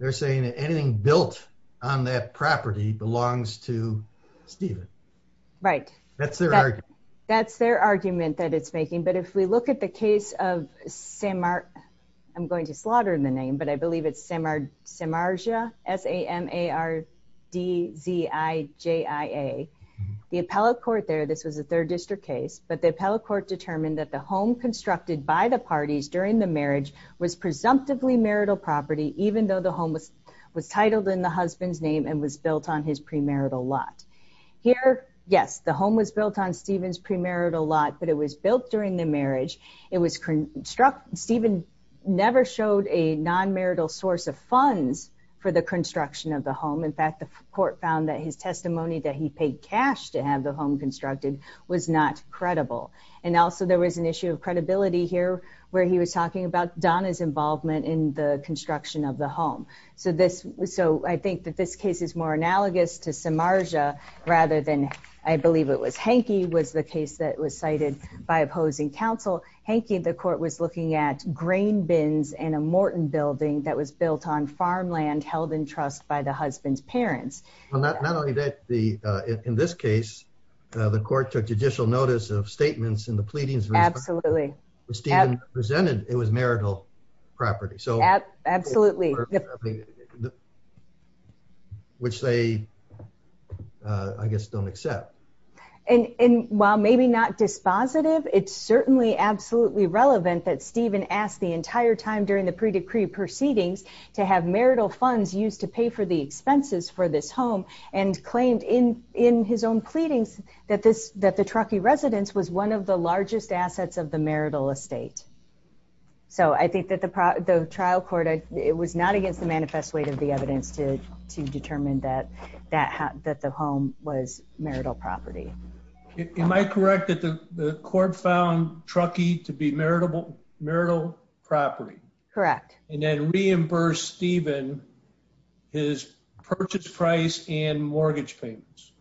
they're saying that anything built on that property belongs to Stephen. Right. That's their argument. That's their argument that it's making. But if we look at the case of Samar... I'm going to slaughter the name, but I believe it's Samarja, S-A-M-A-R-D-Z-I-J-I-A. The appellate court there, this was a third district case, but the appellate court determined that the home constructed by the parties during the marriage was presumptively marital property, even though the home was titled in the husband's name and was built on his premarital lot. Here, yes, the home was built on Stephen's premarital lot, but it was built during the marriage. Stephen never showed a nonmarital source of funds for the construction of the home. In fact, the court found that his testimony that he paid cash to have the home constructed was not credible. And also, there was an issue of credibility here where he was talking about Donna's involvement in the construction of the home. So I think that this case is more analogous to Samarja rather than, I believe it was Hankey, was the case that was cited by opposing counsel. Hankey, the court was looking at grain bins in a Morton building that was built on farmland held in trust by the husband's parents. Not only that, in this case, the court took judicial notice of statements in the pleadings... Absolutely. ...that Stephen presented, it was marital property. Absolutely. Which they, I guess, don't accept. And while maybe not dispositive, it's certainly absolutely relevant that Stephen asked the entire time during the pre-decree proceedings to have marital funds used to pay for the expenses for this home and claimed in his own pleadings that the Truckee residence was one of the largest assets of the marital estate. So I think that the trial court, it was not against the manifest weight of the evidence to determine that the home was marital property. Am I correct that the court found Truckee to be marital property? Correct. And then reimbursed Stephen his purchase price and mortgage payments.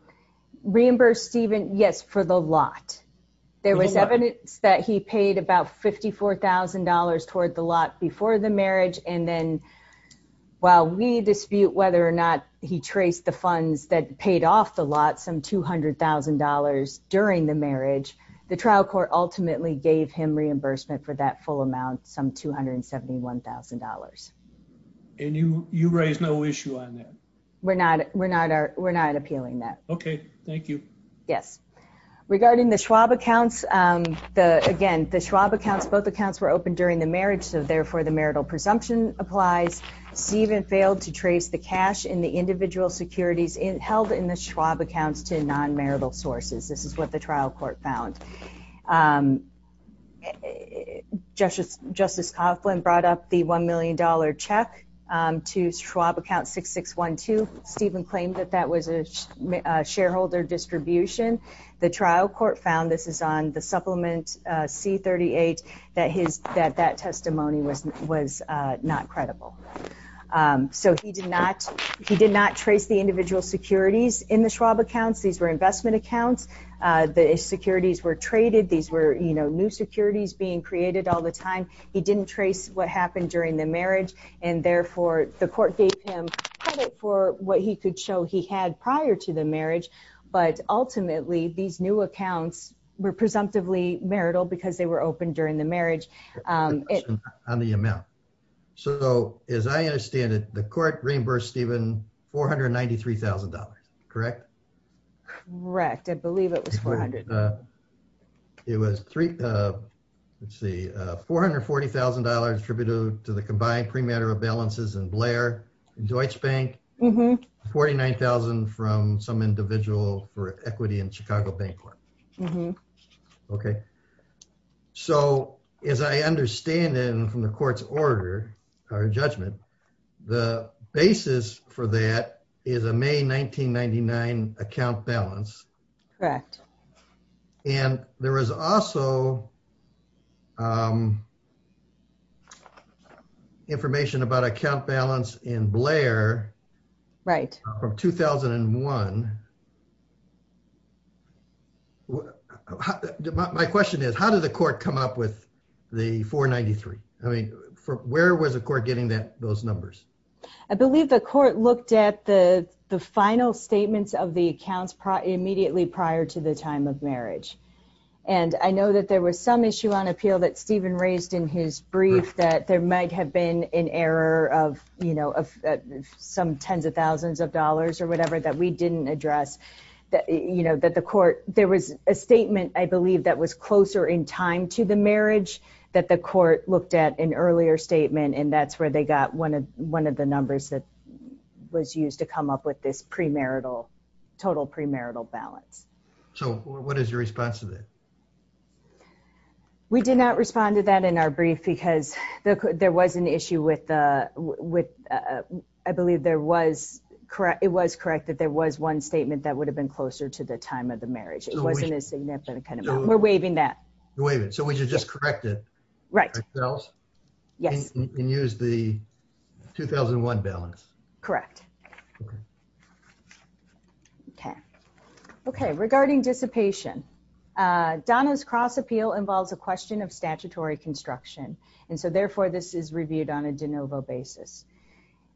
Reimbursed Stephen, yes, for the lot. There was evidence that he paid about $54,000 towards the lot before the marriage. And then while we dispute whether or not he traced the funds that paid off the lot, some $200,000 during the marriage, the trial court ultimately gave him reimbursement for that full amount, some $271,000. And you raised no issue on that? We're not appealing that. Okay, thank you. Yes. Regarding the Schwab accounts, again, the Schwab accounts, both accounts were opened during the marriage, so therefore the marital presumption applies. Stephen failed to trace the cash in the individual securities held in the Schwab accounts to nonmarital sources. This is what the trial court found. Justice Coughlin brought up the $1 million check to Schwab account 6612. Stephen claimed that that was a shareholder distribution. The trial court found, this is on the Supplement C-38, that that testimony was not credible. So he did not trace the individual securities in the Schwab accounts. These were investment accounts. The securities were traded. These were, you know, new securities being created all the time. He didn't trace what happened during the marriage, and therefore the court gave him credit for what he could show he had prior to the marriage. But ultimately, these new accounts were presumptively marital because they were opened during the marriage. On the amount. So as I understand it, the court reimbursed Stephen $493,000, correct? Correct. I believe it was $400,000. Okay. So as I understand it, and from the court's order or judgment, the basis for that is a May 1999 account balance. Correct. And there is also information about account balance in Blair. Right. From 2001. My question is, how did the court come up with the $493,000? I mean, where was the court getting those numbers? I believe the court looked at the final statements of the accounts immediately prior to the time of marriage. And I know that there was some issue on appeal that Stephen raised in his brief that there might have been an error of, you know, some tens of thousands of dollars or whatever that we didn't address. You know, that the court, there was a statement, I believe, that was closer in time to the marriage that the court looked at an earlier statement, and that's where they got one of the numbers that was used to come up with this premarital, total premarital balance. So what is your response to that? We did not respond to that in our brief because there was an issue with, I believe there was, it was corrected, there was one statement that would have been closer to the time of the marriage. It wasn't as significant. We're waiving that. You're waiving it. So we should just correct it ourselves and use the 2001 balance. Correct. Okay. Okay, regarding dissipation, Donna's cross appeal involves a question of statutory construction, and so therefore this is reviewed on a de novo basis.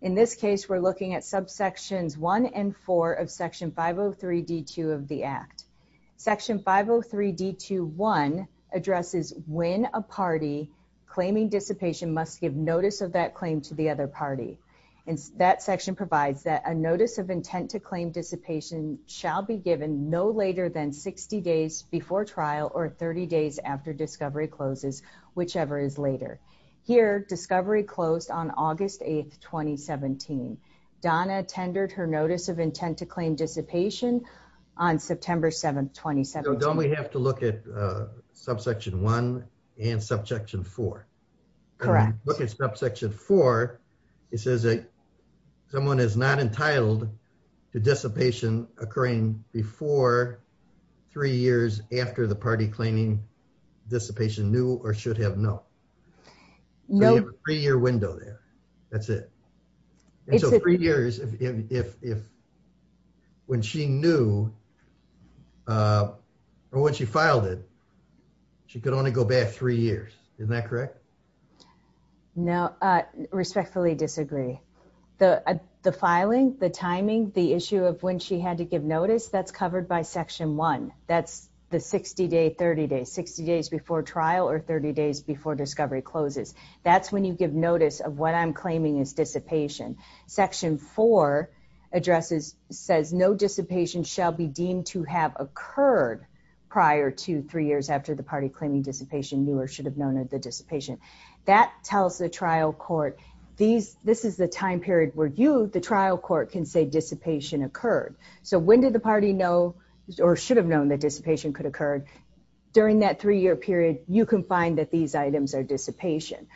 In this case, we're looking at subsections one and four of section 503D2 of the Act. Section 503D2.1 addresses when a party claiming dissipation must give notice of that claim to the other party. And that section provides that a notice of intent to claim dissipation shall be given no later than 60 days before trial or 30 days after discovery closes, whichever is later. Here, discovery closed on August 8, 2017. Donna tendered her notice of intent to claim dissipation on September 7, 2017. So don't we have to look at subsection one and subsection four? Correct. When you look at subsection four, it says that someone is not entitled to dissipation occurring before three years after the party claiming dissipation knew or should have known. Nope. We have a three-year window there. That's it. And so three years, if when she knew or when she filed it, she could only go back three years. Isn't that correct? No. Respectfully disagree. The filing, the timing, the issue of when she had to give notice, that's covered by section one. That's the 60-day, 30-day, 60 days before trial or 30 days before discovery closes. That's when you give notice of what I'm claiming is dissipation. Section four addresses, says no dissipation shall be deemed to have occurred prior to three years after the party claiming dissipation knew or should have known as a dissipation. That tells the trial court, this is the time period where you, the trial court, can say dissipation occurred. So when did the party know or should have known that dissipation could occur? During that three-year period, you can find that these items are dissipation.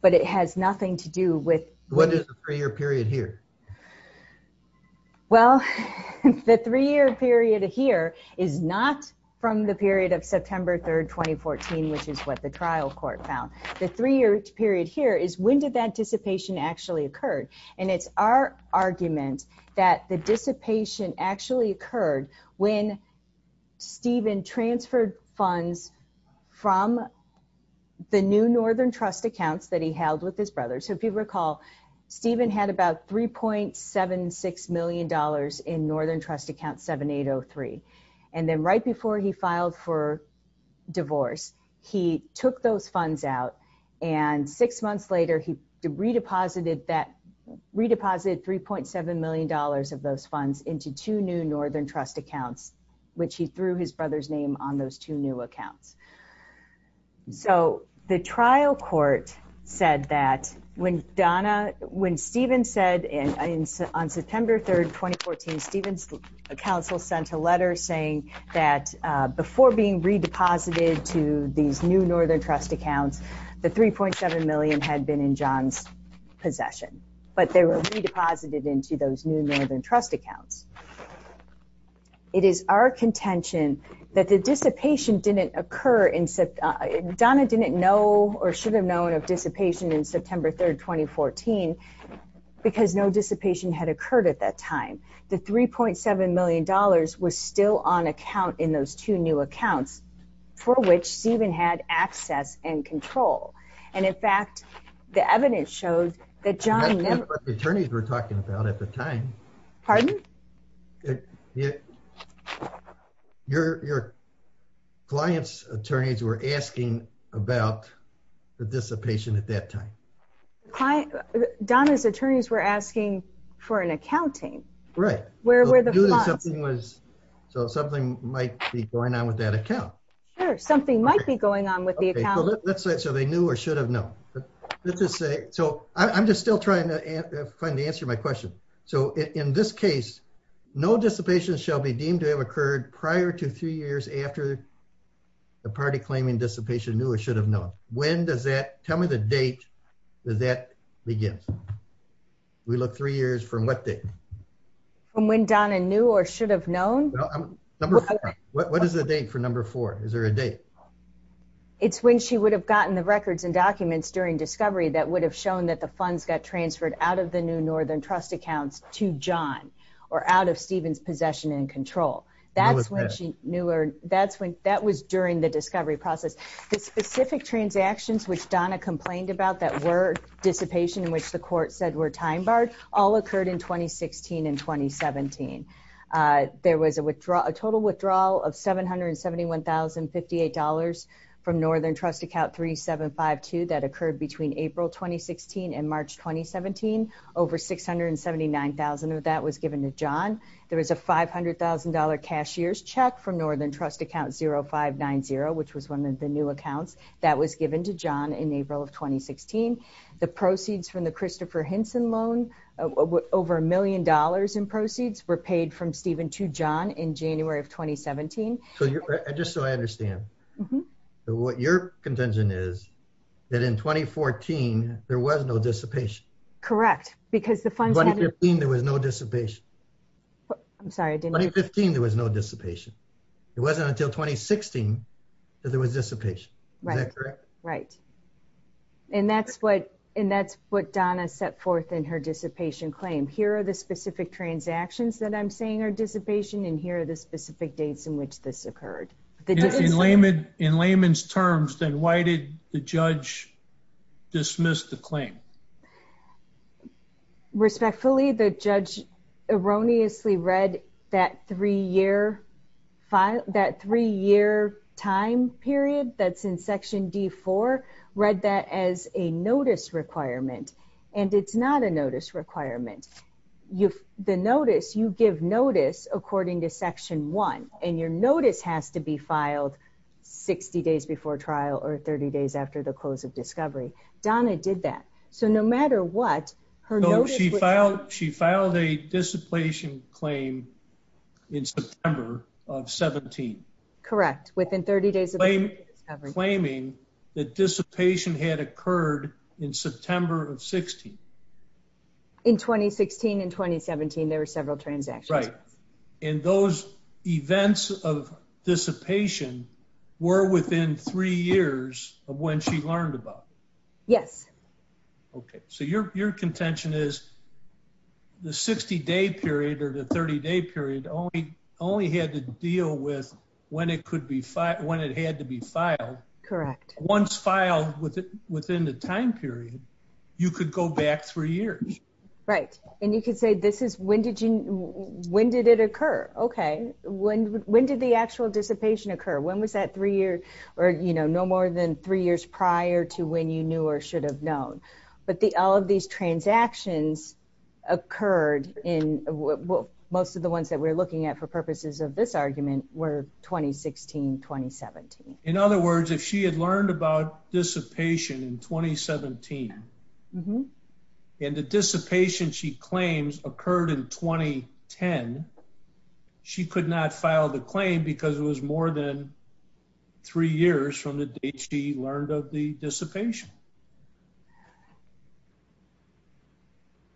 But it has nothing to do with... What is the three-year period here? Well, the three-year period here is not from the period of September 3rd, 2014, which is what the trial court found. The three-year period here is when did that dissipation actually occur? And it's our argument that the dissipation actually occurred when Stephen transferred funds from the new Northern Trust account that he held with his brother. So if you recall, Stephen had about $3.76 million in Northern Trust account 7803. And then right before he filed for divorce, he took those funds out. And six months later, he redeposited $3.7 million of those funds into two new Northern Trust accounts, which he threw his brother's name on those two new accounts. So the trial court said that when Stephen said on September 3rd, 2014, Stephen's counsel sent a letter saying that before being redeposited to these new Northern Trust accounts, the $3.7 million had been in John's possession. But they were redeposited into those new Northern Trust accounts. It is our contention that the dissipation didn't occur in – Donna didn't know or should have known of dissipation on September 3rd, 2014, because no dissipation had occurred at that time. The $3.7 million was still on account in those two new accounts, for which Stephen had access and control. And in fact, the evidence shows that John – I don't know what the attorneys were talking about at the time. Pardon? Your client's attorneys were asking about the dissipation at that time. Donna's attorneys were asking for an accounting. Right. Where were the funds? So something might be going on with that account. Sure, something might be going on with the account. So they knew or should have known. So I'm just still trying to answer my question. So in this case, no dissipation shall be deemed to have occurred prior to two years after the party claiming dissipation knew or should have known. When does that – tell me the date that that begins. We look three years from what date? From when Donna knew or should have known? Number four. What is the date for number four? Is there a date? It's when she would have gotten the records and documents during discovery that would have shown that the funds got transferred out of the new Northern Trust accounts to John or out of Stephen's possession and control. That's when she knew or – that was during the discovery process. The specific transactions which Donna complained about that were dissipation in which the court said were time barred all occurred in 2016 and 2017. There was a total withdrawal of $771,058 from Northern Trust Account 3752 that occurred between April 2016 and March 2017. Over $679,000 of that was given to John. There was a $500,000 cashier's check from Northern Trust Account 0590, which was one of the new accounts, that was given to John in April of 2016. The proceeds from the Christopher Hinson loan, over $1 million in proceeds, were paid from Stephen to John in January of 2017. Just so I understand, what your contention is that in 2014, there was no dissipation. Correct. In 2015, there was no dissipation. I'm sorry. In 2015, there was no dissipation. It wasn't until 2016 that there was dissipation. Is that correct? Right. That's what Donna set forth in her dissipation claim. Here are the specific transactions that I'm saying are dissipation, and here are the specific dates in which this occurred. In layman's terms, then why did the judge dismiss the claim? Respectfully, the judge erroneously read that three-year time period that's in Section D-4, read that as a notice requirement, and it's not a notice requirement. The notice, you give notice according to Section 1, and your notice has to be filed 60 days before trial or 30 days after the close of discovery. Donna did that. So, no matter what, her notice… So, she filed a dissipation claim in September of 17. Correct, within 30 days of discovery. Claiming that dissipation had occurred in September of 16. In 2016 and 2017, there were several transactions. Right. And those events of dissipation were within three years of when she learned about it. Yes. Okay. So, your contention is the 60-day period or the 30-day period only had to deal with when it had to be filed. Correct. Once filed within the time period, you could go back three years. Right. And you could say, when did it occur? Okay. When did the actual dissipation occur? When was that three years or, you know, no more than three years prior to when you knew or should have known? But all of these transactions occurred in what most of the ones that we're looking at for purposes of this argument were 2016, 2017. In other words, if she had learned about dissipation in 2017 and the dissipation she claims occurred in 2010, she could not file the claim because it was more than three years from the date she learned of the dissipation.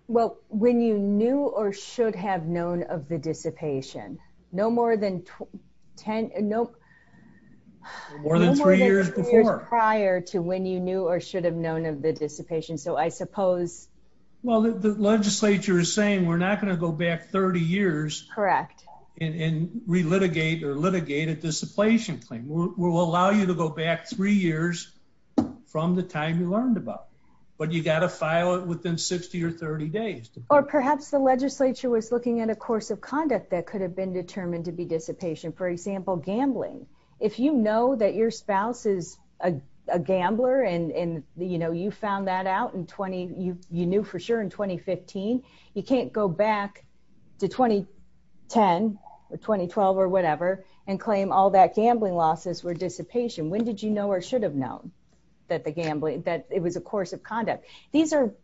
Well, when you knew or should have known of the dissipation. No more than ten, no, no more than three years prior to when you knew or should have known of the dissipation. So, I suppose. Well, the legislature is saying we're not going to go back 30 years. Correct. And relitigate or litigate a dissipation claim. We'll allow you to go back three years from the time you learned about. But you got to file it within 60 or 30 days. Or perhaps the legislature was looking at a course of conduct that could have been determined to be dissipation. For example, gambling. If you know that your spouse is a gambler and you found that out in 20, you knew for sure in 2015, you can't go back to 2010 or 2012 or whatever and claim all that gambling losses were dissipation. When did you know or should have known that it was a course of conduct? These are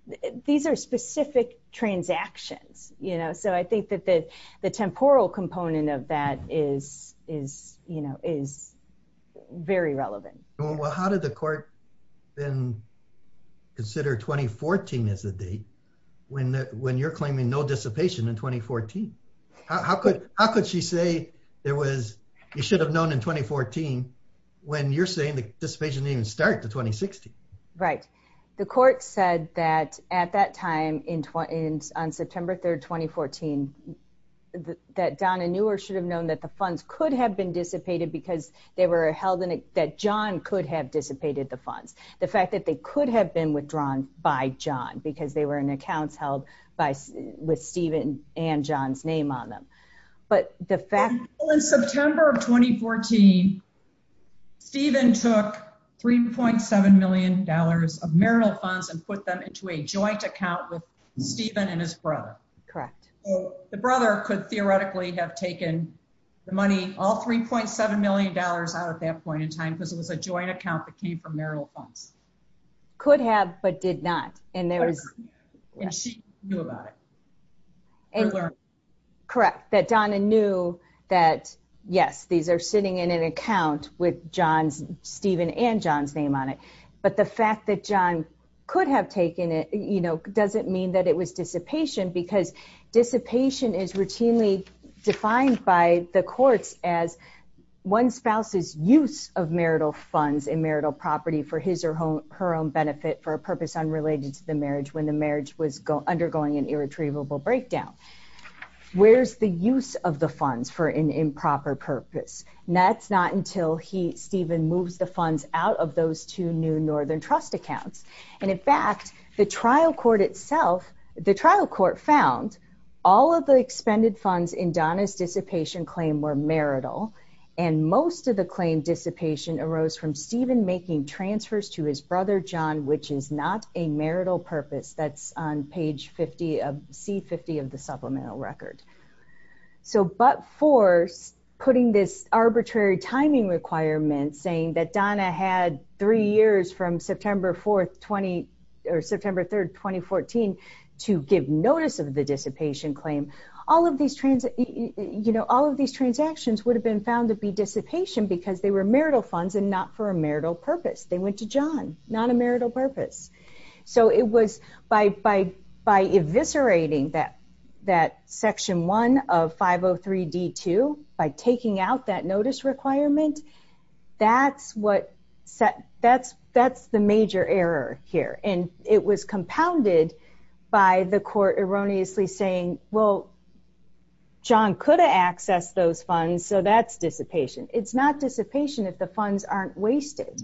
specific transactions. So, I think that the temporal component of that is very relevant. Well, how did the court then consider 2014 as a date when you're claiming no dissipation in 2014? How could she say you should have known in 2014 when you're saying the dissipation didn't even start in 2016? Right. The court said that at that time, on September 3rd, 2014, that Donna knew or should have known that the funds could have been dissipated because they were held in it that John could have dissipated the funds. The fact that they could have been withdrawn by John because they were in accounts held with Stephen and John's name on them. In September of 2014, Stephen took $3.7 million of marital funds and put them into a joint account with Stephen and his brother. Correct. So, the brother could theoretically have taken the money, all $3.7 million out at that point in time because it was a joint account that came from marital funds. Could have, but did not. And she knew about it. Correct. That Donna knew that, yes, these are sitting in an account with Stephen and John's name on it. But the fact that John could have taken it, you know, doesn't mean that it was dissipation because dissipation is routinely defined by the court as one spouse's use of marital funds and marital property for his or her own benefit for a purpose unrelated to the marriage when the marriage was undergoing an irretrievable breakdown. Where's the use of the funds for an improper purpose? And that's not until Stephen moves the funds out of those two new Northern Trust accounts. And, in fact, the trial court itself, the trial court found all of the expended funds in Donna's dissipation claim were marital. And most of the claim dissipation arose from Stephen making transfers to his brother John, which is not a marital purpose. That's on page 50, C50 of the supplemental record. So, but for putting this arbitrary timing requirement saying that Donna had three years from September 4th, 20, or September 3rd, 2014, to give notice of the dissipation claim, all of these transactions would have been found to be dissipation because they were marital funds and not for a marital purpose. They went to John, not a marital purpose. So it was, by eviscerating that section one of 503D2, by taking out that notice requirement, that's what, that's the major error here. And it was compounded by the court erroneously saying, well, John could have accessed those funds, so that's dissipation. It's not dissipation if the funds aren't wasted.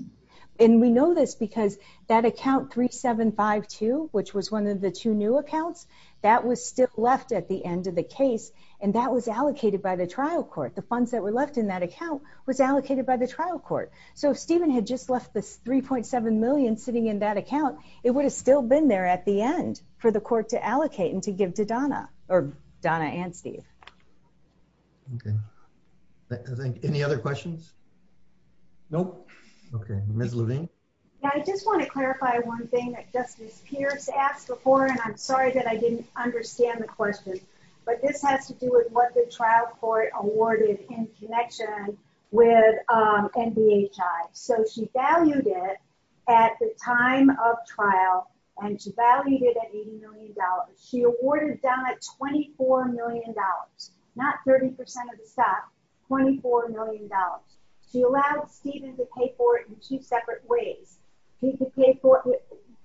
And we know this because that account 3752, which was one of the two new accounts, that was still left at the end of the case, and that was allocated by the trial court. The funds that were left in that account were allocated by the trial court. So if Stephen had just left the $3.7 million sitting in that account, it would have still been there at the end for the court to allocate and to give to Donna, or Donna and Steve. Okay. Any other questions? Nope. Okay. Ms. Levine? I just want to clarify one thing that Justice Pierce asked before, and I'm sorry that I didn't understand the question. But this has to do with what the trial court awarded in connection with NBHI. So she valued it at the time of trial, and she valued it at $80 million. She awarded Donna $24 million, not 30% of the stock, $24 million. She allowed Stephen to pay for it in two separate ways.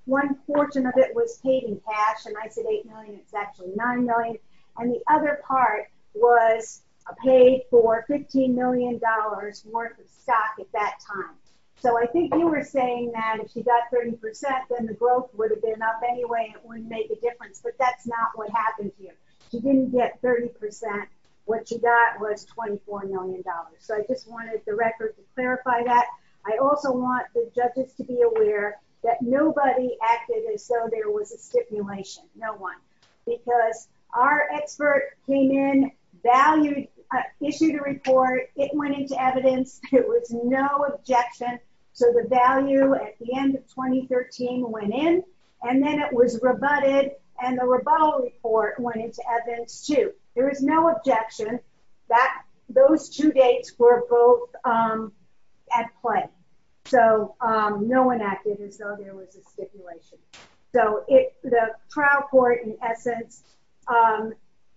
One portion of it was paid in cash, and I said $8 million. It's actually $9 million. And the other part was paid for $15 million worth of stock at that time. So I think you were saying that if she got 30%, then the growth would have been up anyway, and it would have made the difference. But that's not what happened here. She didn't get 30%. What she got was $24 million. So I just wanted the record to clarify that. I also want the judges to be aware that nobody acted as though there was a stipulation. No one. Because our expert came in, issued a report. It went into evidence. It was no objection. So the value at the end of 2013 went in, and then it was rebutted, and the rebuttal report went into evidence too. There was no objection. Those two dates were both at play. So no one acted as though there was a stipulation. So the trial court, in essence,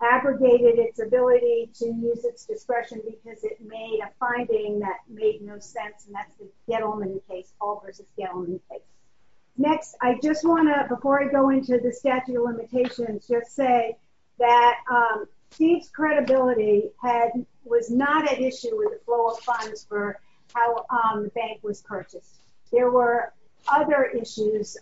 abrogated its ability to use its discretion because it made a finding that made no sense, and that's the Scaleman case. All the Scaleman cases. Next, I just want to, before I go into the statute of limitations, just say that fee credibility was not an issue with the flow of funds for how the bank was purchased. There were other issues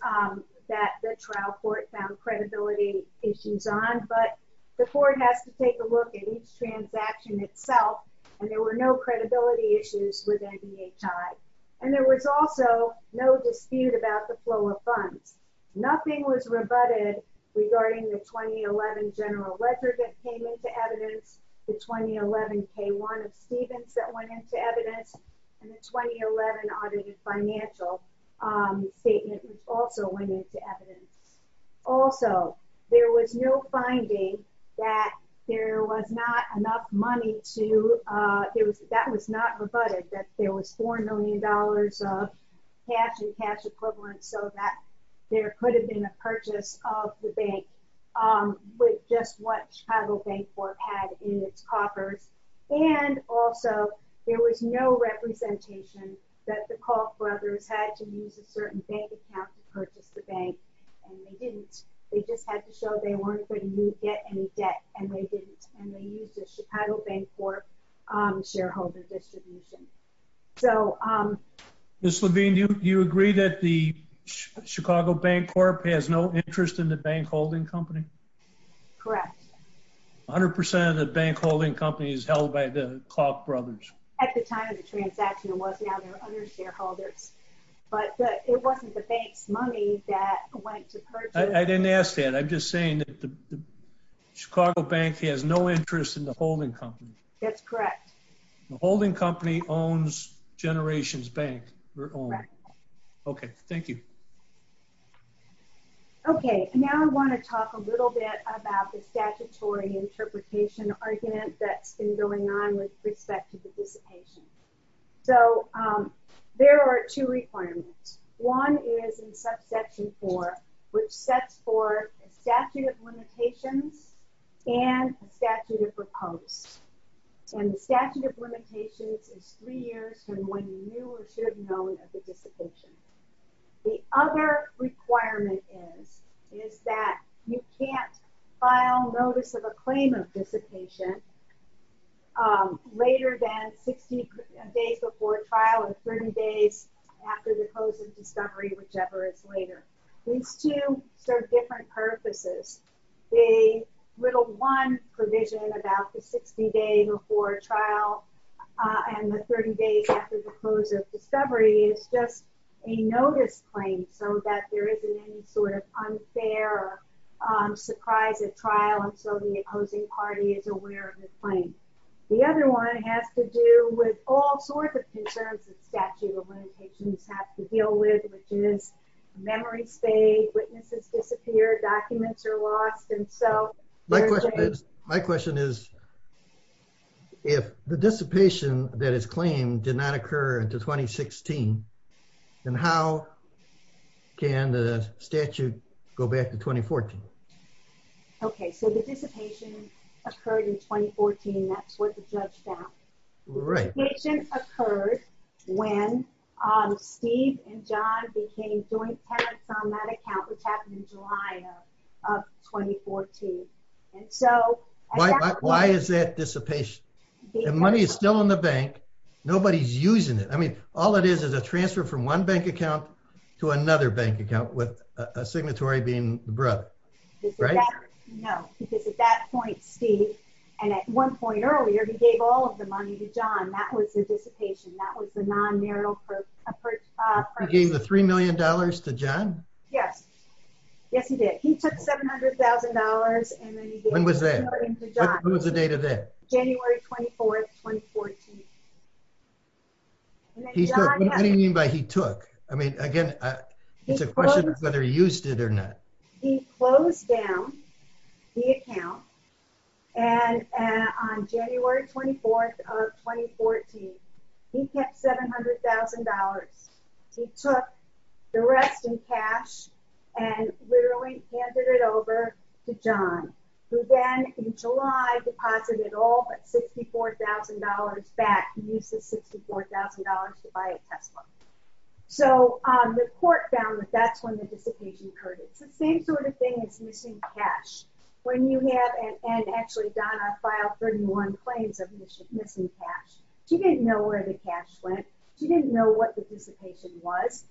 that the trial court found credibility issues on, but the court has to take a look at each transaction itself, and there were no credibility issues with NBHI. And there was also no dispute about the flow of funds. Nothing was rebutted regarding the 2011 general ledger that came into evidence, the 2011 K-1 of Stevens that went into evidence, and the 2011 audited financial statement also went into evidence. Also, there was no finding that there was not enough money to, that was not rebutted, that there was $4 million of cash and cash equivalents, so that there could have been a purchase of the bank with just what Chicago Bank Board had in its coffers. And also, there was no representation that the Kauffbrothers had to use a certain bank account to purchase the bank, and they didn't. They just had to show they weren't going to get any debt, and they used the Chicago Bank Board shareholder distribution. Ms. Levine, do you agree that the Chicago Bank Board has no interest in the bank holding company? Correct. 100% of the bank holding company is held by the Kauffbrothers. At the time of the transaction, it was. Now, there are other shareholders. But it wasn't the bank's money that went to purchase. I didn't ask that. I'm just saying that the Chicago Bank has no interest in the holding company. That's correct. The holding company owns Generations Bank. Correct. Okay, thank you. Okay, now I want to talk a little bit about the statutory interpretation argument that's been going on with respect to the dissipation. So, there are two requirements. One is in Section 4, which sets forth a statute of limitations and a statute of repose. And the statute of limitations is three years from when you were should have known of the dissipation. The other requirement is that you can't file notice of a claim of dissipation later than 60 days before trial and 30 days after the close of discovery, whichever is later. These two serve different purposes. The little one provision about the 60 days before trial and the 30 days after the close of discovery is just a notice claim so that there isn't any sort of unfair or surprising trial until the opposing party is aware of the claim. The other one has to do with all sorts of concerns the statute of limitations has to deal with. Students' memories fade, witnesses disappear, documents are lost, and so… My question is, if the dissipation that is claimed did not occur until 2016, then how can the statute go back to 2014? Okay, so the dissipation occurred in 2014. That's what the judge found. Dissipation occurred when Steve and John became joint parents on that account which happened in July of 2014. Why is that dissipation? If money is still in the bank, nobody's using it. I mean, all it is is a transfer from one bank account to another bank account with a signatory being the brother. Right? No. Because at that point, Steve, and at one point earlier, he gave all of the money to John. That was dissipation. That was the non-marital… He gave the $3 million to John? Yes. Yes, he did. He took $700,000 and then… When was that? What was the date of that? January 24th, 2014. What do you mean by he took? I mean, again, it's a question of whether he used it or not. He closed down the account, and on January 24th of 2014, he kept $700,000. He took the rest in cash and literally handed it over to John, who then, in July, deposited all $54,000 back. He used the $54,000 to buy a Tesla. So, the court found that that's when the dissipation occurred. It's the same sort of thing as using cash. When you have… And actually, Donna filed 31 claims of missing cash. She didn't know where the cash went. She didn't know what the dissipation was.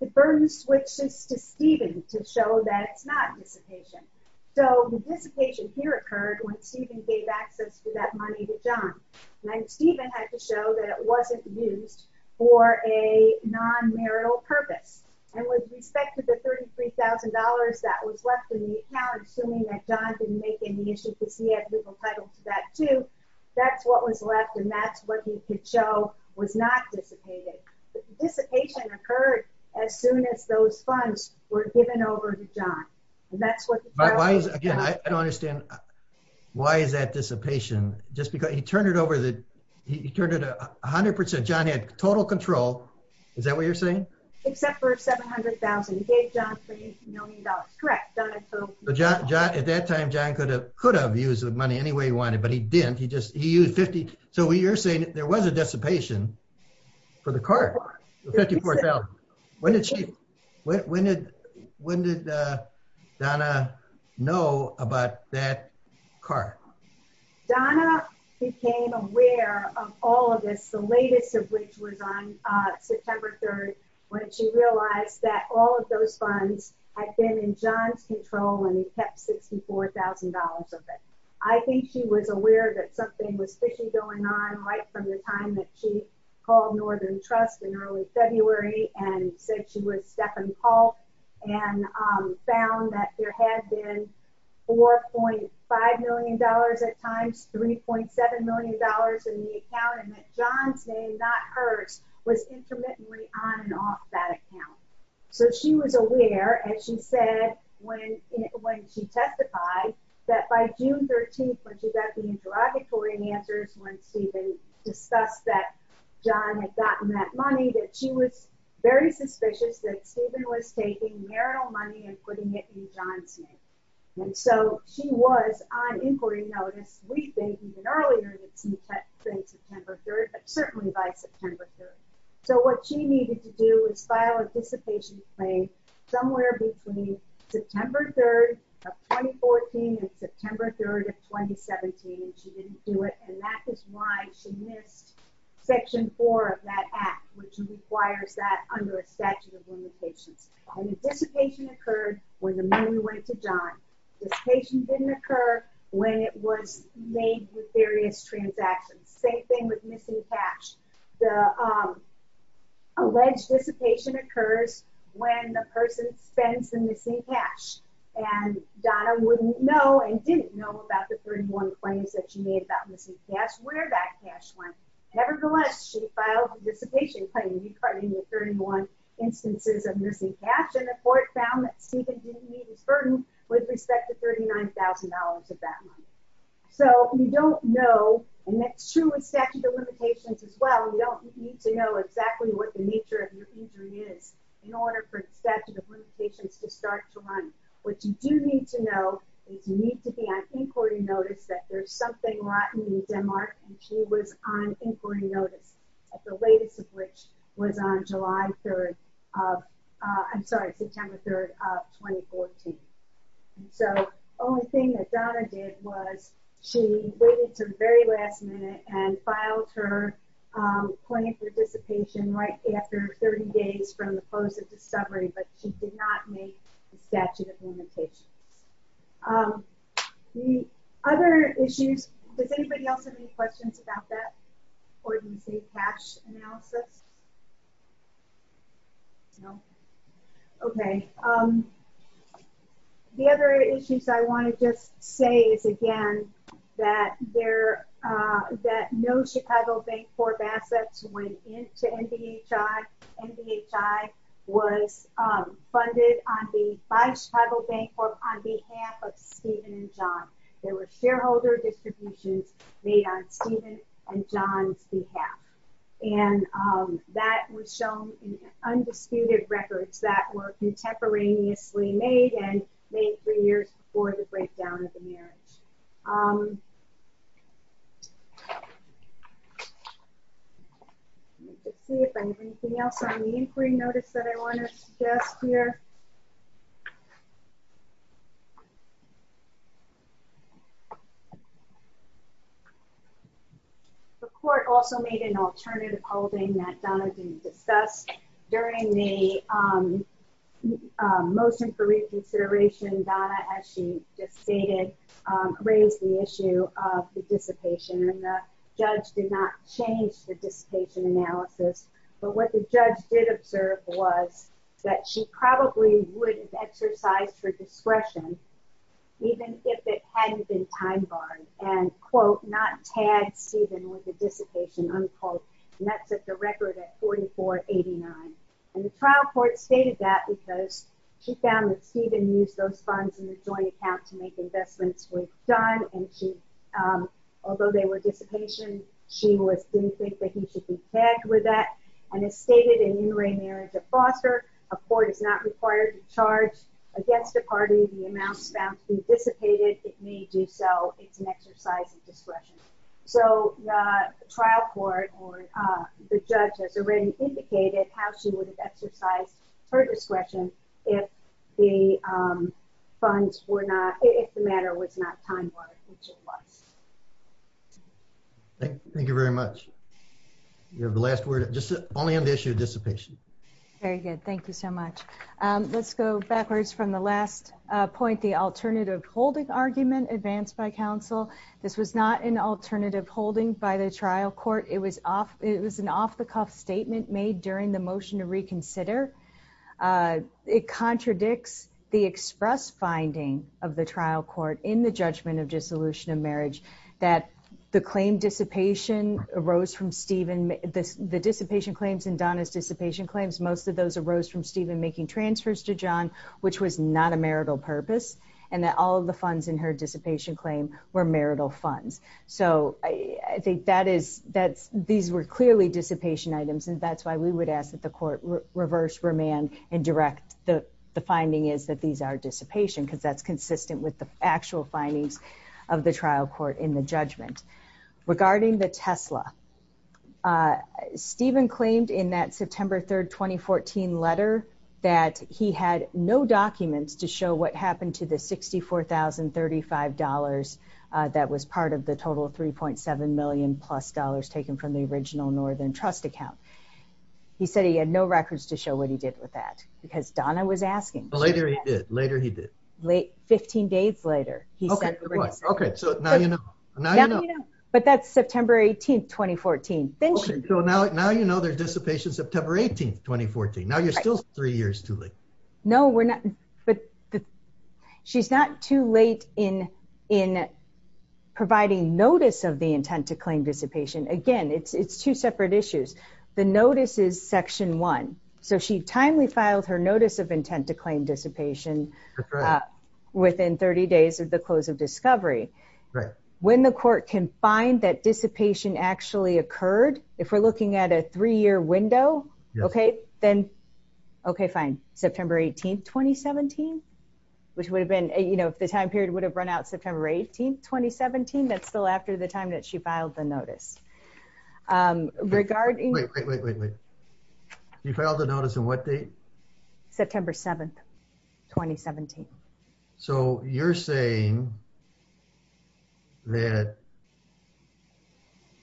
The burden switches to Stephen to show that it's not dissipation. So, the dissipation here occurred when Stephen gave access to that money to John. And Stephen had to show that it wasn't used for a non-marital purpose. And with respect to the $33,000 that was left in the account, assuming that John didn't make any issues, that's what was left, and that's what he could show was not dissipated. The dissipation occurred as soon as those funds were given over to John. And that's what… Again, I don't understand. Why is that dissipation? Just because… He turned it over. He turned it 100%. John had total control. Is that what you're saying? Except for $700,000. He gave John $300 million. Correct. At that time, John could have used the money any way he wanted, but he didn't. He used 50… So, you're saying that there was a dissipation for the car, the $54,000. When did Donna know about that car? Donna became aware of all of this, the latest of which was on September 3rd, when she realized that all of those funds had been in John's control and he kept $64,000 of it. I think she was aware that something was fishy going on right from the time that she called Northern Trust in early February and said she was deaf and tall and found that there had been $4.5 million at times, $3.7 million in the account and that John's name, not hers, was intermittently on and off that account. So, she was aware and she said when she testified that by June 13th, when she got the interrogatory answers, when Stephen discussed that John had gotten that money, that she was very suspicious that Stephen was taking marital money and putting it in John's name. So, she was on inquiry notice, we think, even earlier than September 3rd, but certainly by September 3rd. So, what she needed to do was file a dissipation claim somewhere between September 3rd of 2014 and September 3rd of 2017. She didn't do it and that is why she missed Section 4 of that Act, which requires that under a statute of limitations. A dissipation occurred when the money went to John. Dissipation didn't occur when it was made with various transactions. Same thing with missing cash. The alleged dissipation occurred when the person spends the missing cash. And Donna wouldn't know and didn't know about the 31 claims that she made about missing cash, where that cash went. Nevertheless, she filed a dissipation claim. She filed 31 instances of missing cash and the court found that Stephen didn't meet his burden with respect to $39,000 of that money. So, you don't know and that's true with statute of limitations as well. You don't need to know exactly what the nature of your injury is in order for statute of limitations to start to run. What you do need to know is you need to be on inquiry notice that there's something rotten in Denmark and she was on inquiry notice. The latest of which was on July 3rd of, I'm sorry, September 3rd of 2014. So, the only thing that Donna did was she waited until the very last minute and filed her claim for dissipation right after 30 days from the close of the discovery, but she did not meet the statute of limitations. The other issues, does anybody else have any questions about that? Or do you see cash analysis? No? Okay. The other issues I want to just say is, again, that no Chicago Bank Corp. assets went into NBHI. NBHI was funded by the Chicago Bank Corp. on behalf of Stephen and John. There were shareholder distributions made on Stephen and John's behalf. And that was shown in undisputed records that were contemporaneously made and made three years before the breakdown of the marriage. Let's see if there's anything else on the inquiry notice that I want to share here. The court also made an alternative holding that Donna didn't discuss. During the motion for reconsideration, Donna, as she just stated, raised the issue of dissipation. And the judge did not change the dissipation analysis. But what the judge did observe was that she probably would have exercised her discretion, even if it hadn't been time-barred, and, quote, not tagged Stephen with the dissipation, unquote. And that's at the record at 4489. And the trial court stated that because she found that Stephen used those funds in his joint account to make investments with John. Although they were dissipation, she would soon think that he should be tagged with that. And it's stated in Unitarian as a foster. A court is not required to charge against the party the amount found to be dissipated. It may do so if an exercise of discretion. So the trial court or the judge, as it was indicated, how she would have exercised her discretion if the funds were not ‑‑ if the matter was not time-barred, which it was. Thank you very much. You have the last word. Just only on the issue of dissipation. Very good. Thank you so much. Let's go backwards from the last point, the alternative holding argument advanced by counsel. This was not an alternative holding by the trial court. It was an off‑the‑cuff statement made during the motion to reconsider. It contradicts the express finding of the trial court in the judgment of dissolution of marriage that the claim dissipation arose from Stephen. The dissipation claims and Donna's dissipation claims, most of those arose from Stephen making transfers to John, which was not a marital purpose. And all of the funds in her dissipation claim were marital funds. So these were clearly dissipation items, and that's why we would ask that the court reverse, remand, and direct the finding is that these are dissipation, because that's consistent with the actual findings of the trial court in the judgment. Regarding the Tesla, Stephen claimed in that September 3, 2014, letter that he had no documents to show what happened to the $64,035 that was part of the total of $3.7 million plus taken from the original Northern Trust account. He said he had no records to show what he did with that, because Donna was asking. Later he did. Later he did. 15 days later. Okay, so now you know. But that's September 18, 2014. So now you know there's dissipation September 18, 2014. Now you're still three years too late. No, we're not. She's not too late in providing notice of the intent to claim dissipation. Again, it's two separate issues. The notice is section one. So she timely filed her notice of intent to claim dissipation within 30 days of the close of discovery. When the court can find that dissipation actually occurred, if we're looking at a three-year window, okay, then, okay, fine. September 18, 2017, which would have been, you know, if the time period would have run out September 18, 2017, that's still after the time that she filed the notice. Regarding... Wait, wait, wait, wait. You filed the notice on what date? September 7, 2017. So you're saying that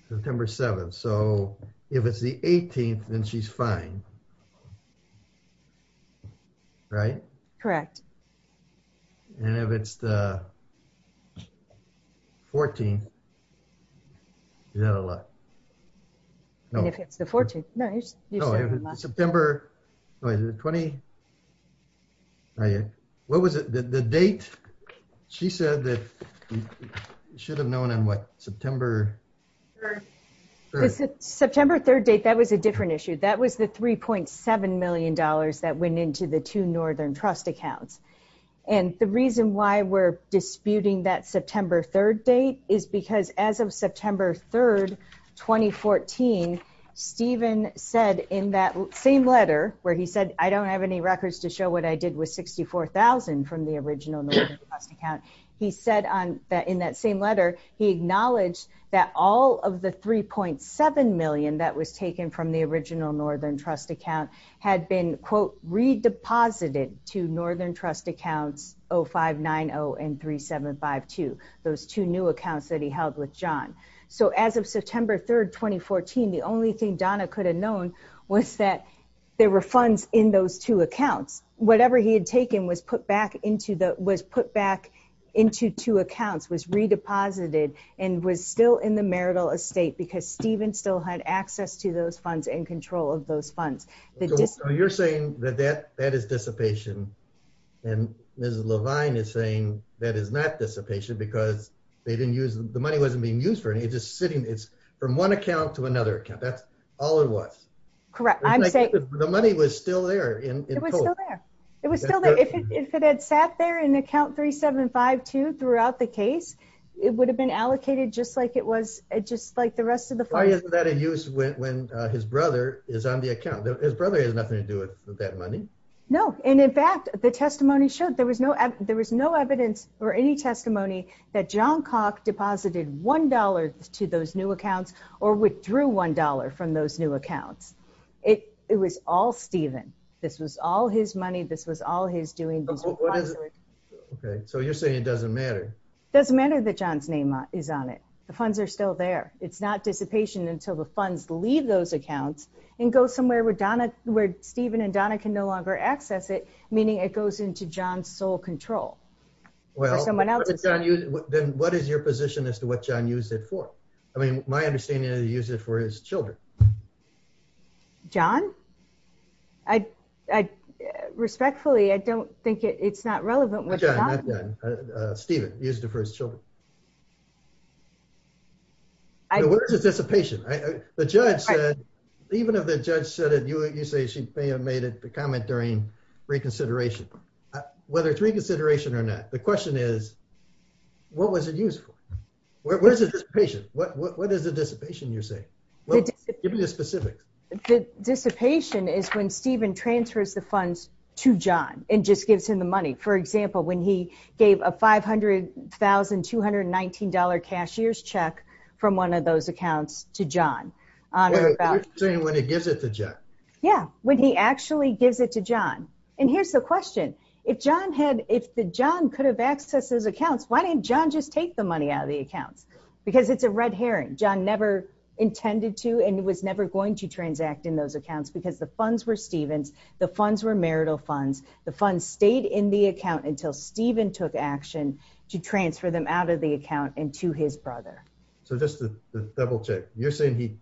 September 7, so if it's the 18th, then she's fine, right? Correct. And if it's the 14th, is that a lot? No. If it's the 14th... No, if it's September... Wait, is it the 20th? What was it? The date? She said that she should have known on what, September... September 3rd date, that was a different issue. That was the $3.7 million that went into the two Northern Trust accounts. And the reason why we're disputing that September 3rd date is because as of September 3rd, 2014, Stephen said in that same letter, where he said, I don't have any records to show what I did with $64,000 from the original Northern Trust account. He said in that same letter, he acknowledged that all of the $3.7 million that was taken from the original Northern Trust account had been, quote, redeposited to Northern Trust accounts 0590 and 3752, those two new accounts that he held with John. So as of September 3rd, 2014, the only thing Donna could have known was that there were funds in those two accounts. Whatever he had taken was put back into two accounts, was redeposited, and was still in the marital estate because Stephen still had access to those funds and control of those funds. So you're saying that that is dissipation, and Ms. Levine is saying that is not dissipation because the money wasn't being used for anything. It's from one account to another account. That's all it was. Correct. I'm saying... The money was still there in total. It was still there. If it had sat there in account 3752 throughout the case, it would have been allocated just like the rest of the funds. Why isn't that in use when his brother is on the account? His brother has nothing to do with that money. No, and in fact, the testimony shows there was no evidence or any testimony that John Cox deposited $1 to those new accounts or withdrew $1 from those new accounts. It was all Stephen. This was all his money. This was all his doing. Okay, so you're saying it doesn't matter. It doesn't matter that John's name is on it. The funds are still there. It's not dissipation until the funds leave those accounts and go somewhere where Stephen and Donna can no longer access it, meaning it goes into John's sole control. Well, then what is your position as to what John used it for? I mean, my understanding is he used it for his children. John? Respectfully, I don't think it's not relevant. Stephen used it for his children. So where is the dissipation? The judge said, even if the judge said it, you say she may have made the comment during reconsideration. Whether it's reconsideration or not, the question is, what was it used for? Where's the dissipation? What is the dissipation, you say? Give me the specifics. The dissipation is when Stephen transfers the funds to John and just gives him the money. For example, when he gave a $500,219 cashier's check from one of those accounts to John. You're saying when he gives it to John. Yeah, when he actually gives it to John. And here's the question. If John could have accessed those accounts, why didn't John just take the money out of the account? Because it's a red herring. John never intended to and was never going to transact in those accounts because the funds were Stephen's. The funds were marital funds. The funds stayed in the account until Stephen took action to transfer them out of the account and to his brother. So just to double check, you're saying he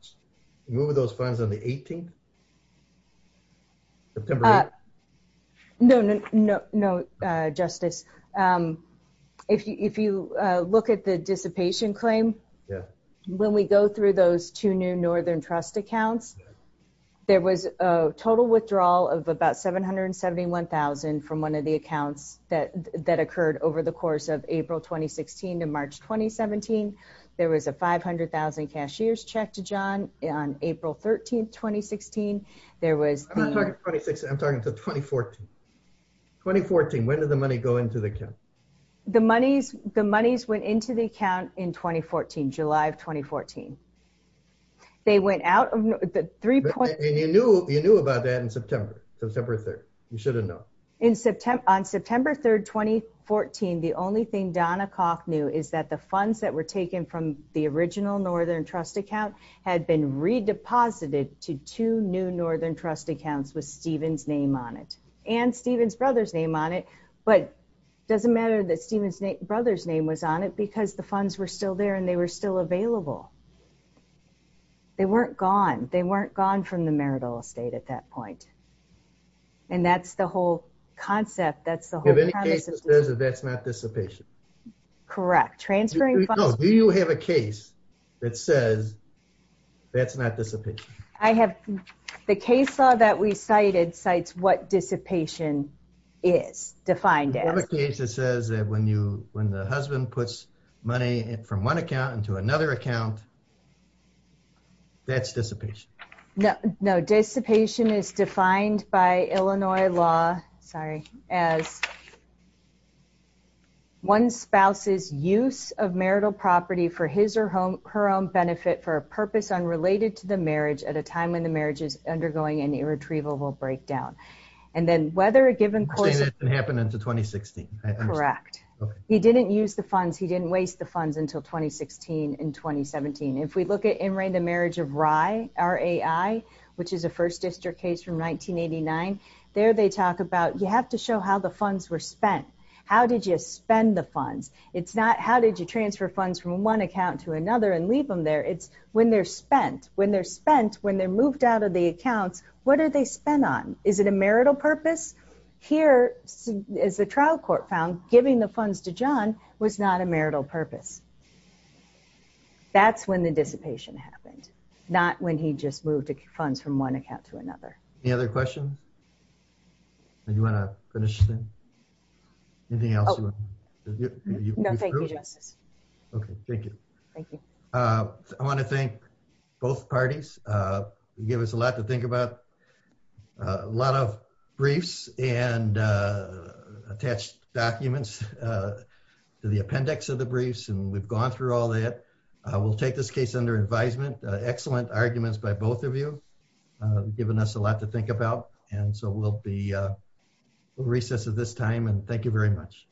moved those funds on the 18th? September 8th? No, Justice. If you look at the dissipation claim, when we go through those two new Northern Trust accounts, there was a total withdrawal of about $771,000 from one of the accounts that occurred over the course of April 2016 to March 2017. There was a $500,000 cashier's check to John on April 13th, 2016. I'm not talking 2016, I'm talking 2014. 2014, when did the money go into the account? The monies went into the account in July of 2014. You knew about that on September 3rd. You should have known. On September 3rd, 2014, the only thing Donna Koch knew is that the funds that were taken from the original Northern Trust account had been redeposited to two new Northern Trust accounts with Stephen's name on it and Stephen's brother's name on it. But it doesn't matter that Stephen's brother's name was on it because the funds were still there and they were still available. They weren't gone. They weren't gone from the marital estate at that point. And that's the whole concept. Do you have any case that says that's not dissipation? Correct. Transferring funds. Do you have a case that says that's not dissipation? The case law that we cited cites what dissipation is defined as. Is there a case that says that when the husband puts money from one account into another account, that's dissipation? No. Dissipation is defined by Illinois law as one spouse's use of marital property for his or her own benefit for a purpose unrelated to the marriage at a time when the marriage is undergoing an irretrievable breakdown. And then whether a given person... And that didn't happen until 2016. Correct. He didn't use the funds. He didn't waste the funds until 2016 and 2017. If we look at In Reign to Marriage of Rye, RAI, which is a first district case from 1989, there they talk about you have to show how the funds were spent. How did you spend the funds? It's not how did you transfer funds from one account to another and leave them there. It's when they're spent. When they're spent, when they're moved out of the account, what are they spent on? Is it a marital purpose? Here, as the trial court found, giving the funds to John was not a marital purpose. That's when the dissipation happened, not when he just moved the funds from one account to another. Any other questions? Do you want to finish? Anything else? No, thank you, Justice. Okay, thank you. Thank you. I want to thank both parties. You gave us a lot to think about, a lot of briefs and attached documents to the appendix of the briefs, and we've gone through all that. We'll take this case under advisement. Excellent arguments by both of you. You've given us a lot to think about, and so we'll be recess at this time, and thank you very much.